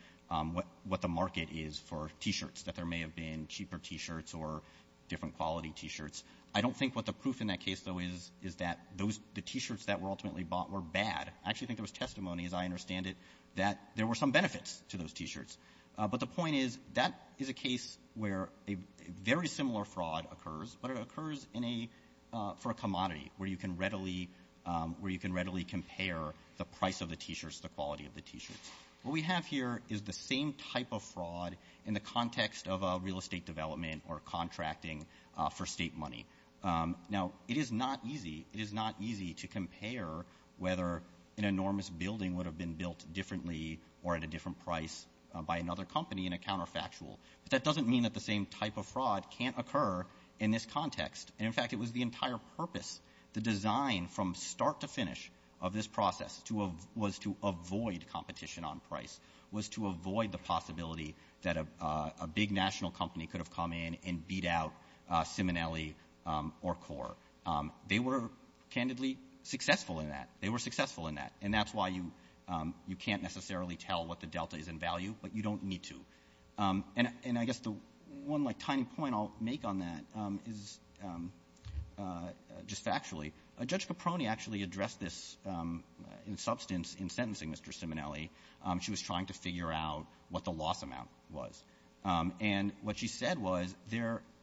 what the market is for T-shirts, that there may have been cheaper T-shirts or different quality T-shirts. I don't think what the proof in that case, though, is that the T-shirts that were ultimately bought were bad. I actually think there was testimony, as I understand it, that there were some benefits to those T-shirts. But the point is that is a case where a very similar fraud occurs, but it occurs for a commodity, where you can readily compare the price of the T-shirts to the quality of the T-shirts. What we have here is the same type of fraud in the context of a real estate development or contracting for state money. Now, it is not easy. It is not easy to compare whether an enormous building would have been built differently or at a different price by another company in a counterfactual. But that doesn't mean that the same type of fraud can't occur in this context. And, in fact, it was the entire purpose, the design from start to finish of this process, was to avoid competition on price, was to avoid the possibility that a big national company could have come in and beat out Simonelli or Core. They were candidly successful in that. They were successful in that. And that's why you can't necessarily tell what the delta is in value, but you don't need to. And I guess the one tiny point I'll make on that is, just factually, Judge Caproni actually addressed this in substance in sentencing Mr. Simonelli. She was trying to figure out what the loss amount was. And what she said was,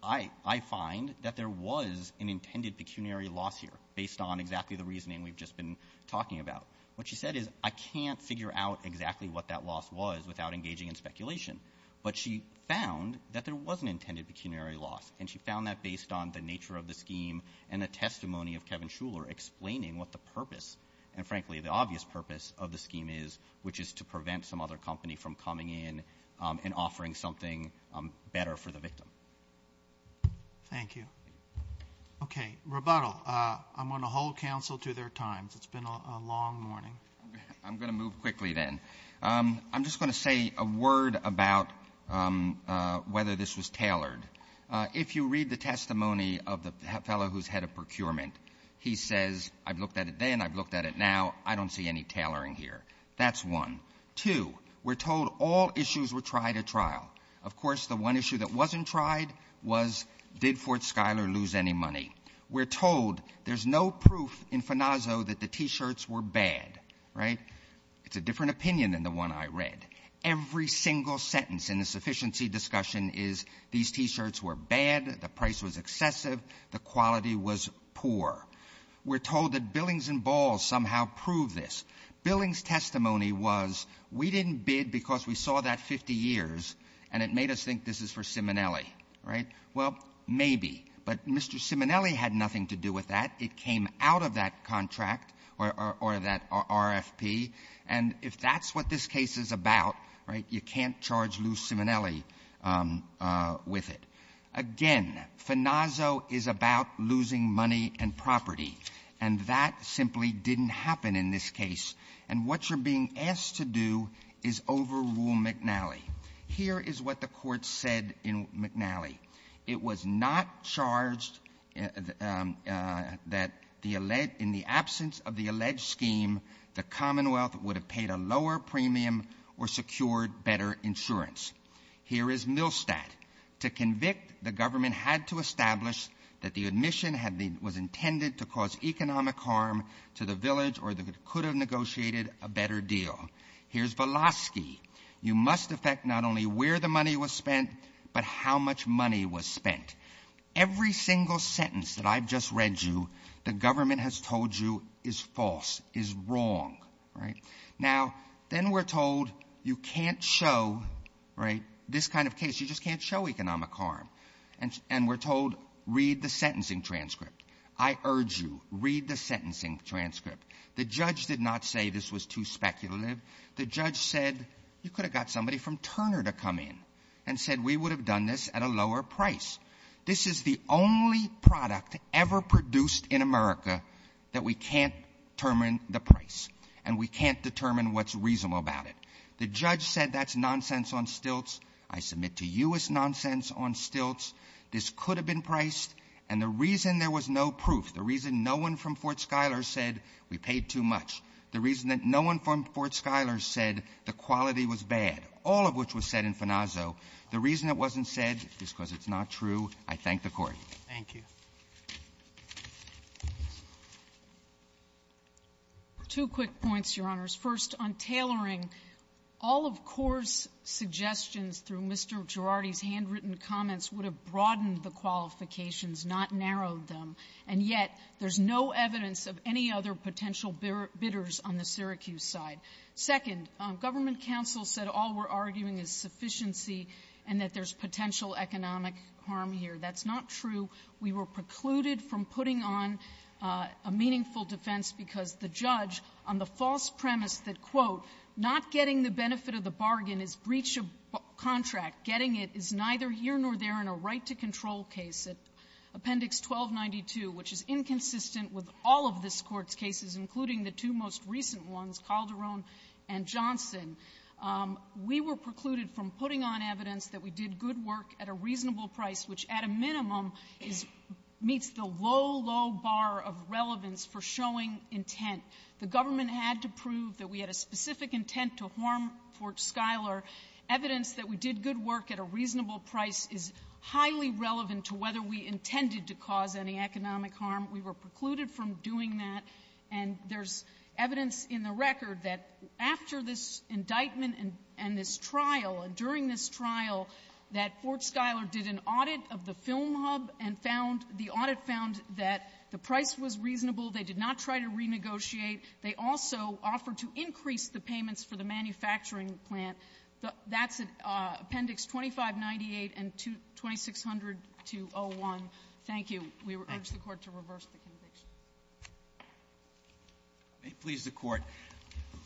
I find that there was an intended pecuniary loss here, based on exactly the reasoning we've just been talking about. What she said is, I can't figure out exactly what that loss was without engaging in speculation. But she found that there was an intended pecuniary loss, and she found that based on the nature of the scheme and the testimony of Kevin Shuler explaining what the purpose, and, frankly, the obvious purpose of the scheme is, which is to prevent some other company from coming in and offering something better for the victim. Thank you. Okay, rebuttal. I'm going to hold counsel to their times. It's been a long morning. I'm going to move quickly, then. I'm just going to say a word about whether this was tailored. If you read the testimony of the fellow who's head of procurement, he says, I've looked at it then, I've looked at it now, I don't see any tailoring here. That's one. Two, we're told all issues were tried at trial. Of course, the one issue that wasn't tried was, did Fort Schuyler lose any money? Three, we're told there's no proof in Fanazzo that the T-shirts were bad. Right? It's a different opinion than the one I read. Every single sentence in the sufficiency discussion is, these T-shirts were bad, the price was excessive, the quality was poor. We're told that Billings and Balls somehow proved this. Billings' testimony was, we didn't bid because we saw that 50 years, and it made us think this is for Simonelli. Right? Well, maybe. But Mr. Simonelli had nothing to do with that. It came out of that contract, or that RFP. And if that's what this case is about, right, you can't charge Lou Simonelli with it. Again, Fanazzo is about losing money and property. And that simply didn't happen in this case. And what you're being asked to do is overrule McNally. Here is what the Court said in McNally. It was not charged that in the absence of the alleged scheme, the Commonwealth would have paid a lower premium or secured better insurance. Here is Milstadt. To convict, the government had to establish that the admission was intended to cause economic harm to the village or that it could have negotiated a better deal. Here's Velosky. You must affect not only where the money was spent, but how much money was spent. Every single sentence that I've just read you, the government has told you is false, is wrong. Right? Now, then we're told you can't show, right, this kind of case. You just can't show economic harm. And we're told, read the sentencing transcript. I urge you, read the sentencing transcript. The judge did not say this was too speculative. The judge said you could have got somebody from Turner to come in and said we would have done this at a lower price. This is the only product ever produced in America that we can't determine the price. And we can't determine what's reasonable about it. The judge said that's nonsense on stilts. I submit to you it's nonsense on stilts. This could have been priced. And the reason there was no proof, the reason no one from Fort Schuyler said we paid too much, the reason that no one from Fort Schuyler said the quality was bad, all of which was said in Fanazzo, the reason it wasn't said is because it's not true. I thank the Court. Roberts. Two quick points, Your Honors. First, on tailoring, all of CORE's suggestions through Mr. Girardi's handwritten comments would have broadened the qualifications, not narrowed them. And yet there's no evidence of any other potential bidders on the Syracuse side. Second, government counsel said all we're arguing is sufficiency and that there's potential economic harm here. That's not true. We were precluded from putting on a meaningful defense because the judge, on the false premise that, quote, not getting the benefit of the bargain is breach of contract, getting it is neither here nor there in a right-to-control case, Appendix 1292, which is inconsistent with all of this Court's cases, including the two most recent ones, Calderon and Johnson. We were precluded from putting on evidence that we did good work at a reasonable price, which at a minimum is — meets the low, low bar of relevance for showing intent. The government had to prove that we had a specific intent to harm Fort Schuyler. Evidence that we did good work at a reasonable price is highly relevant to whether we intended to cause any economic harm. We were precluded from doing that. And there's evidence in the record that after this indictment and this trial, and during this trial, that Fort Schuyler did an audit of the film hub and found — the audit found that the price was reasonable. They did not try to renegotiate. They also offered to increase the payments for the manufacturing plant. That's Appendix 2598 and 2600-01. Thank you. We urge the Court to reverse the conviction. May it please the Court.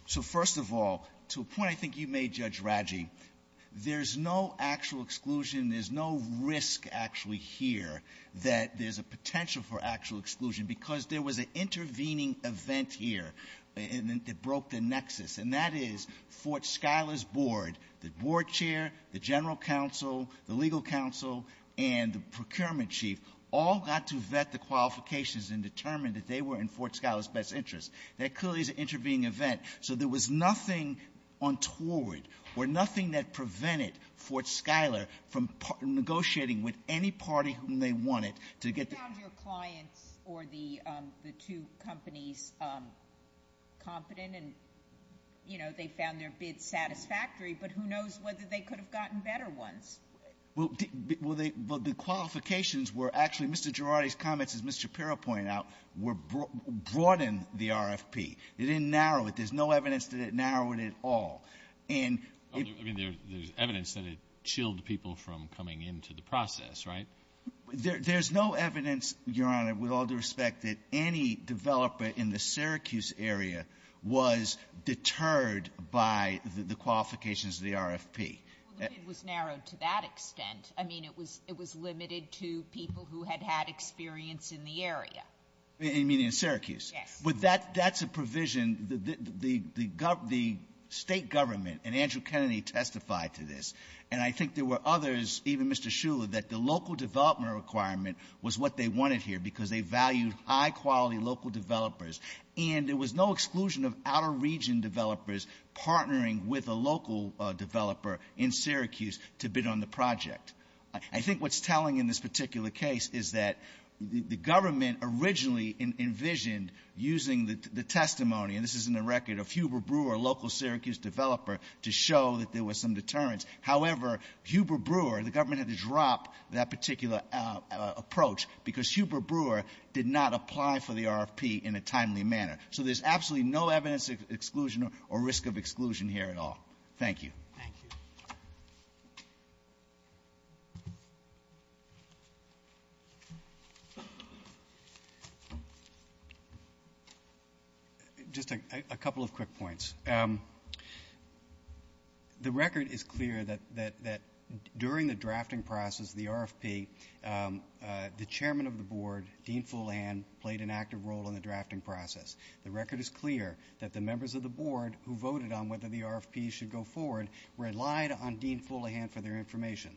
So, first of all, to a point I think you made, Judge Raggi, there's no actual exclusion, there's no risk actually here that there's a potential for actual exclusion because there was an intervening event here that broke the nexus. And that is Fort Schuyler's board, the board chair, the general counsel, the legal counsel, and the procurement chief all got to vet the qualifications and determined that they were in Fort Schuyler's best interest. That clearly is an intervening event. So there was nothing untoward or nothing that prevented Fort Schuyler from negotiating with any party whom they wanted to get the — You found your clients or the two companies competent and, you know, they found their bids satisfactory, but who knows whether they could have gotten better ones? Well, the qualifications were actually Mr. Girardi's comments, as Mr. Shapiro pointed out, were — broadened the RFP. It didn't narrow it. There's no evidence that it narrowed it at all. And it — I mean, there's evidence that it chilled people from coming into the process, right? There's no evidence, Your Honor, with all due respect, that any developer in the Syracuse area was deterred by the qualifications of the RFP. Well, the bid was narrowed to that extent. I mean, it was limited to people who had had experience in the area. You mean in Syracuse? Yes. But that's a provision — the state government, and Andrew Kennedy testified to this, and I think there were others, even Mr. Shuler, that the local development requirement was what they wanted here because they valued high-quality local developers, and there was no exclusion of outer region developers partnering with a local developer in Syracuse to bid on the project. I think what's telling in this particular case is that the government originally envisioned using the testimony — and this is in the record of Huber Brewer, a local Syracuse developer, to show that there was some deterrence. However, Huber Brewer — the government had to drop that particular approach because Huber Brewer did not apply for the RFP in a timely manner. So there's absolutely no evidence of exclusion or risk of exclusion here at all. Thank you. Thank you. Just a couple of quick points. The record is clear that during the drafting process of the RFP, the chairman of the board, Dean Fuleihan, played an active role in the drafting process. The record is clear that the members of the board who voted on whether the RFP should go forward relied on Dean Fuleihan for their information.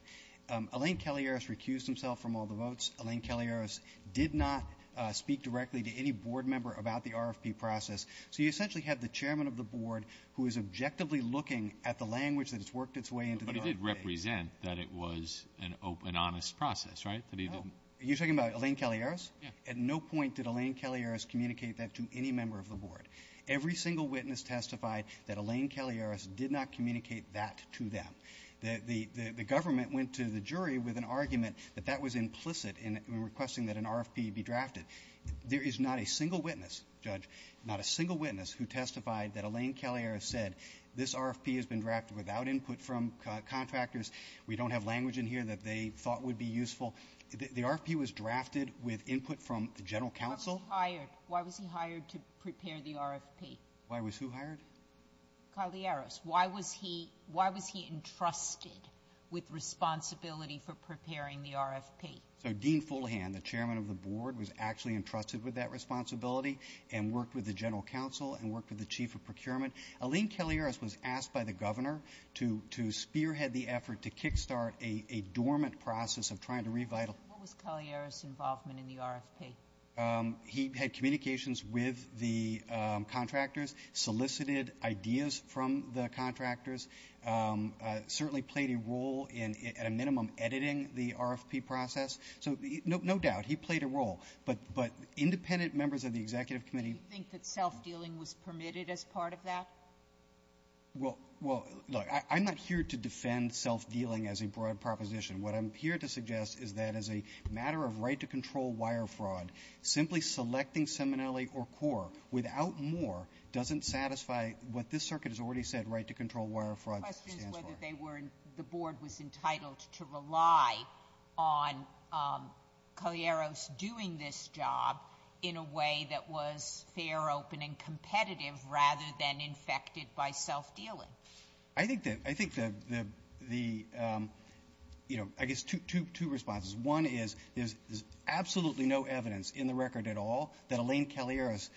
Elaine Kelliaris recused himself from all the votes. Elaine Kelliaris did not speak directly to any board member about the RFP process. So you essentially have the chairman of the board who is objectively looking at the language that has worked its way into the RFP. But it did represent that it was an honest process, right? You're talking about Elaine Kelliaris? Yeah. At no point did Elaine Kelliaris communicate that to any member of the board. Every single witness testified that Elaine Kelliaris did not communicate that to them. The government went to the jury with an argument that that was implicit in requesting that an RFP be drafted. There is not a single witness, Judge, not a single witness who testified that Elaine Kelliaris said, this RFP has been drafted without input from contractors, we don't have language in here that they thought would be useful. The RFP was drafted with input from the general counsel. Why was he hired? Why was he hired to prepare the RFP? Why was who hired? Kelliaris. Why was he entrusted with responsibility for preparing the RFP? So Dean Fuleihan, the chairman of the board, was actually entrusted with that responsibility and worked with the general counsel and worked with the chief of procurement. Elaine Kelliaris was asked by the governor to spearhead the effort to kickstart a dormant process of trying to revitalize. What was Kelliaris' involvement in the RFP? He had communications with the contractors, solicited ideas from the contractors, certainly played a role in, at a minimum, editing the RFP process. So no doubt, he played a role. But independent members of the executive committee. Do you think that self-dealing was permitted as part of that? Well, look, I'm not here to defend self-dealing as a broad proposition. What I'm here to suggest is that as a matter of right to control wire fraud, simply selecting Seminelli or CORE without more doesn't satisfy what this circuit has already said, right to control wire fraud. The question is whether they were, the board was entitled to rely on Kelliaris doing this job in a way that was fair, open, and competitive rather than infected by self-dealing. I think that the, you know, I guess two responses. One is there's absolutely no evidence in the record at all that Elaine Kelliaris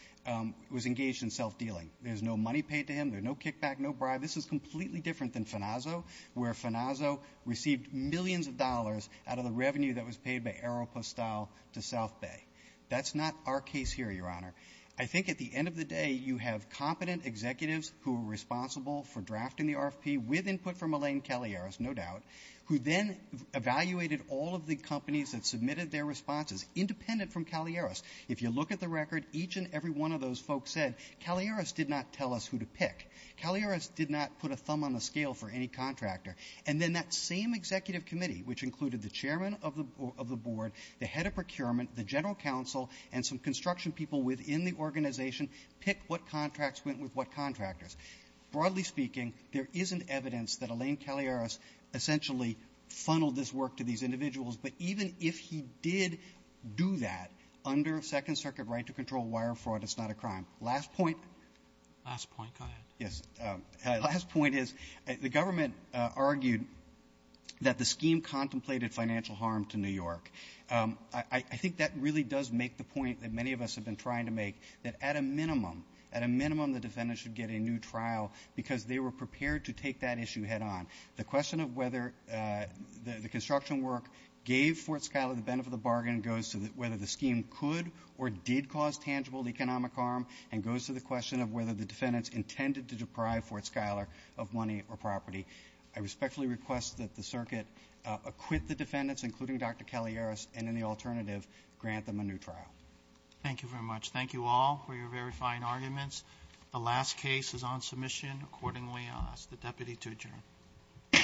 was engaged in self-dealing. There's no money paid to him. There's no kickback, no bribe. This is completely different than FNAZO, where FNAZO received millions of dollars out of the revenue that was paid by Aeropostale to South Bay. That's not our case here, Your Honor. I think at the end of the day, you have competent executives who are responsible for drafting the RFP with input from Elaine Kelliaris, no doubt, who then evaluated all of the companies that submitted their responses, independent from Kelliaris. If you look at the record, each and every one of those folks said, Kelliaris did not tell us who to pick. Kelliaris did not put a thumb on the scale for any contractor. And then that same executive committee, which included the chairman of the board, the head of procurement, the general counsel, and some construction people within the organization, picked what contracts went with what contractors. Broadly speaking, there isn't evidence that Elaine Kelliaris essentially funneled this work to these individuals, but even if he did do that under Second Circuit right to control wire fraud, it's not a crime. Last point. Last point. Go ahead. Yes. Last point is, the government argued that the scheme contemplated financial harm to New York. I think that really does make the point that many of us have been trying to make, that at a minimum, at a minimum, the defendant should get a new trial because they were prepared to take that issue head on. The question of whether the construction work gave Fort Scala the benefit of the bargain goes to whether the scheme could or did cause tangible economic harm and goes to the question of whether the defendants intended to deprive Fort Scala of money or property. I respectfully request that the circuit acquit the defendants, including Dr. Kelliaris, and in the alternative, grant them a new trial. Thank you very much. Thank you all for your very fine arguments. The last case is on submission. Accordingly, I'll ask the deputy to adjourn. Court is adjourned.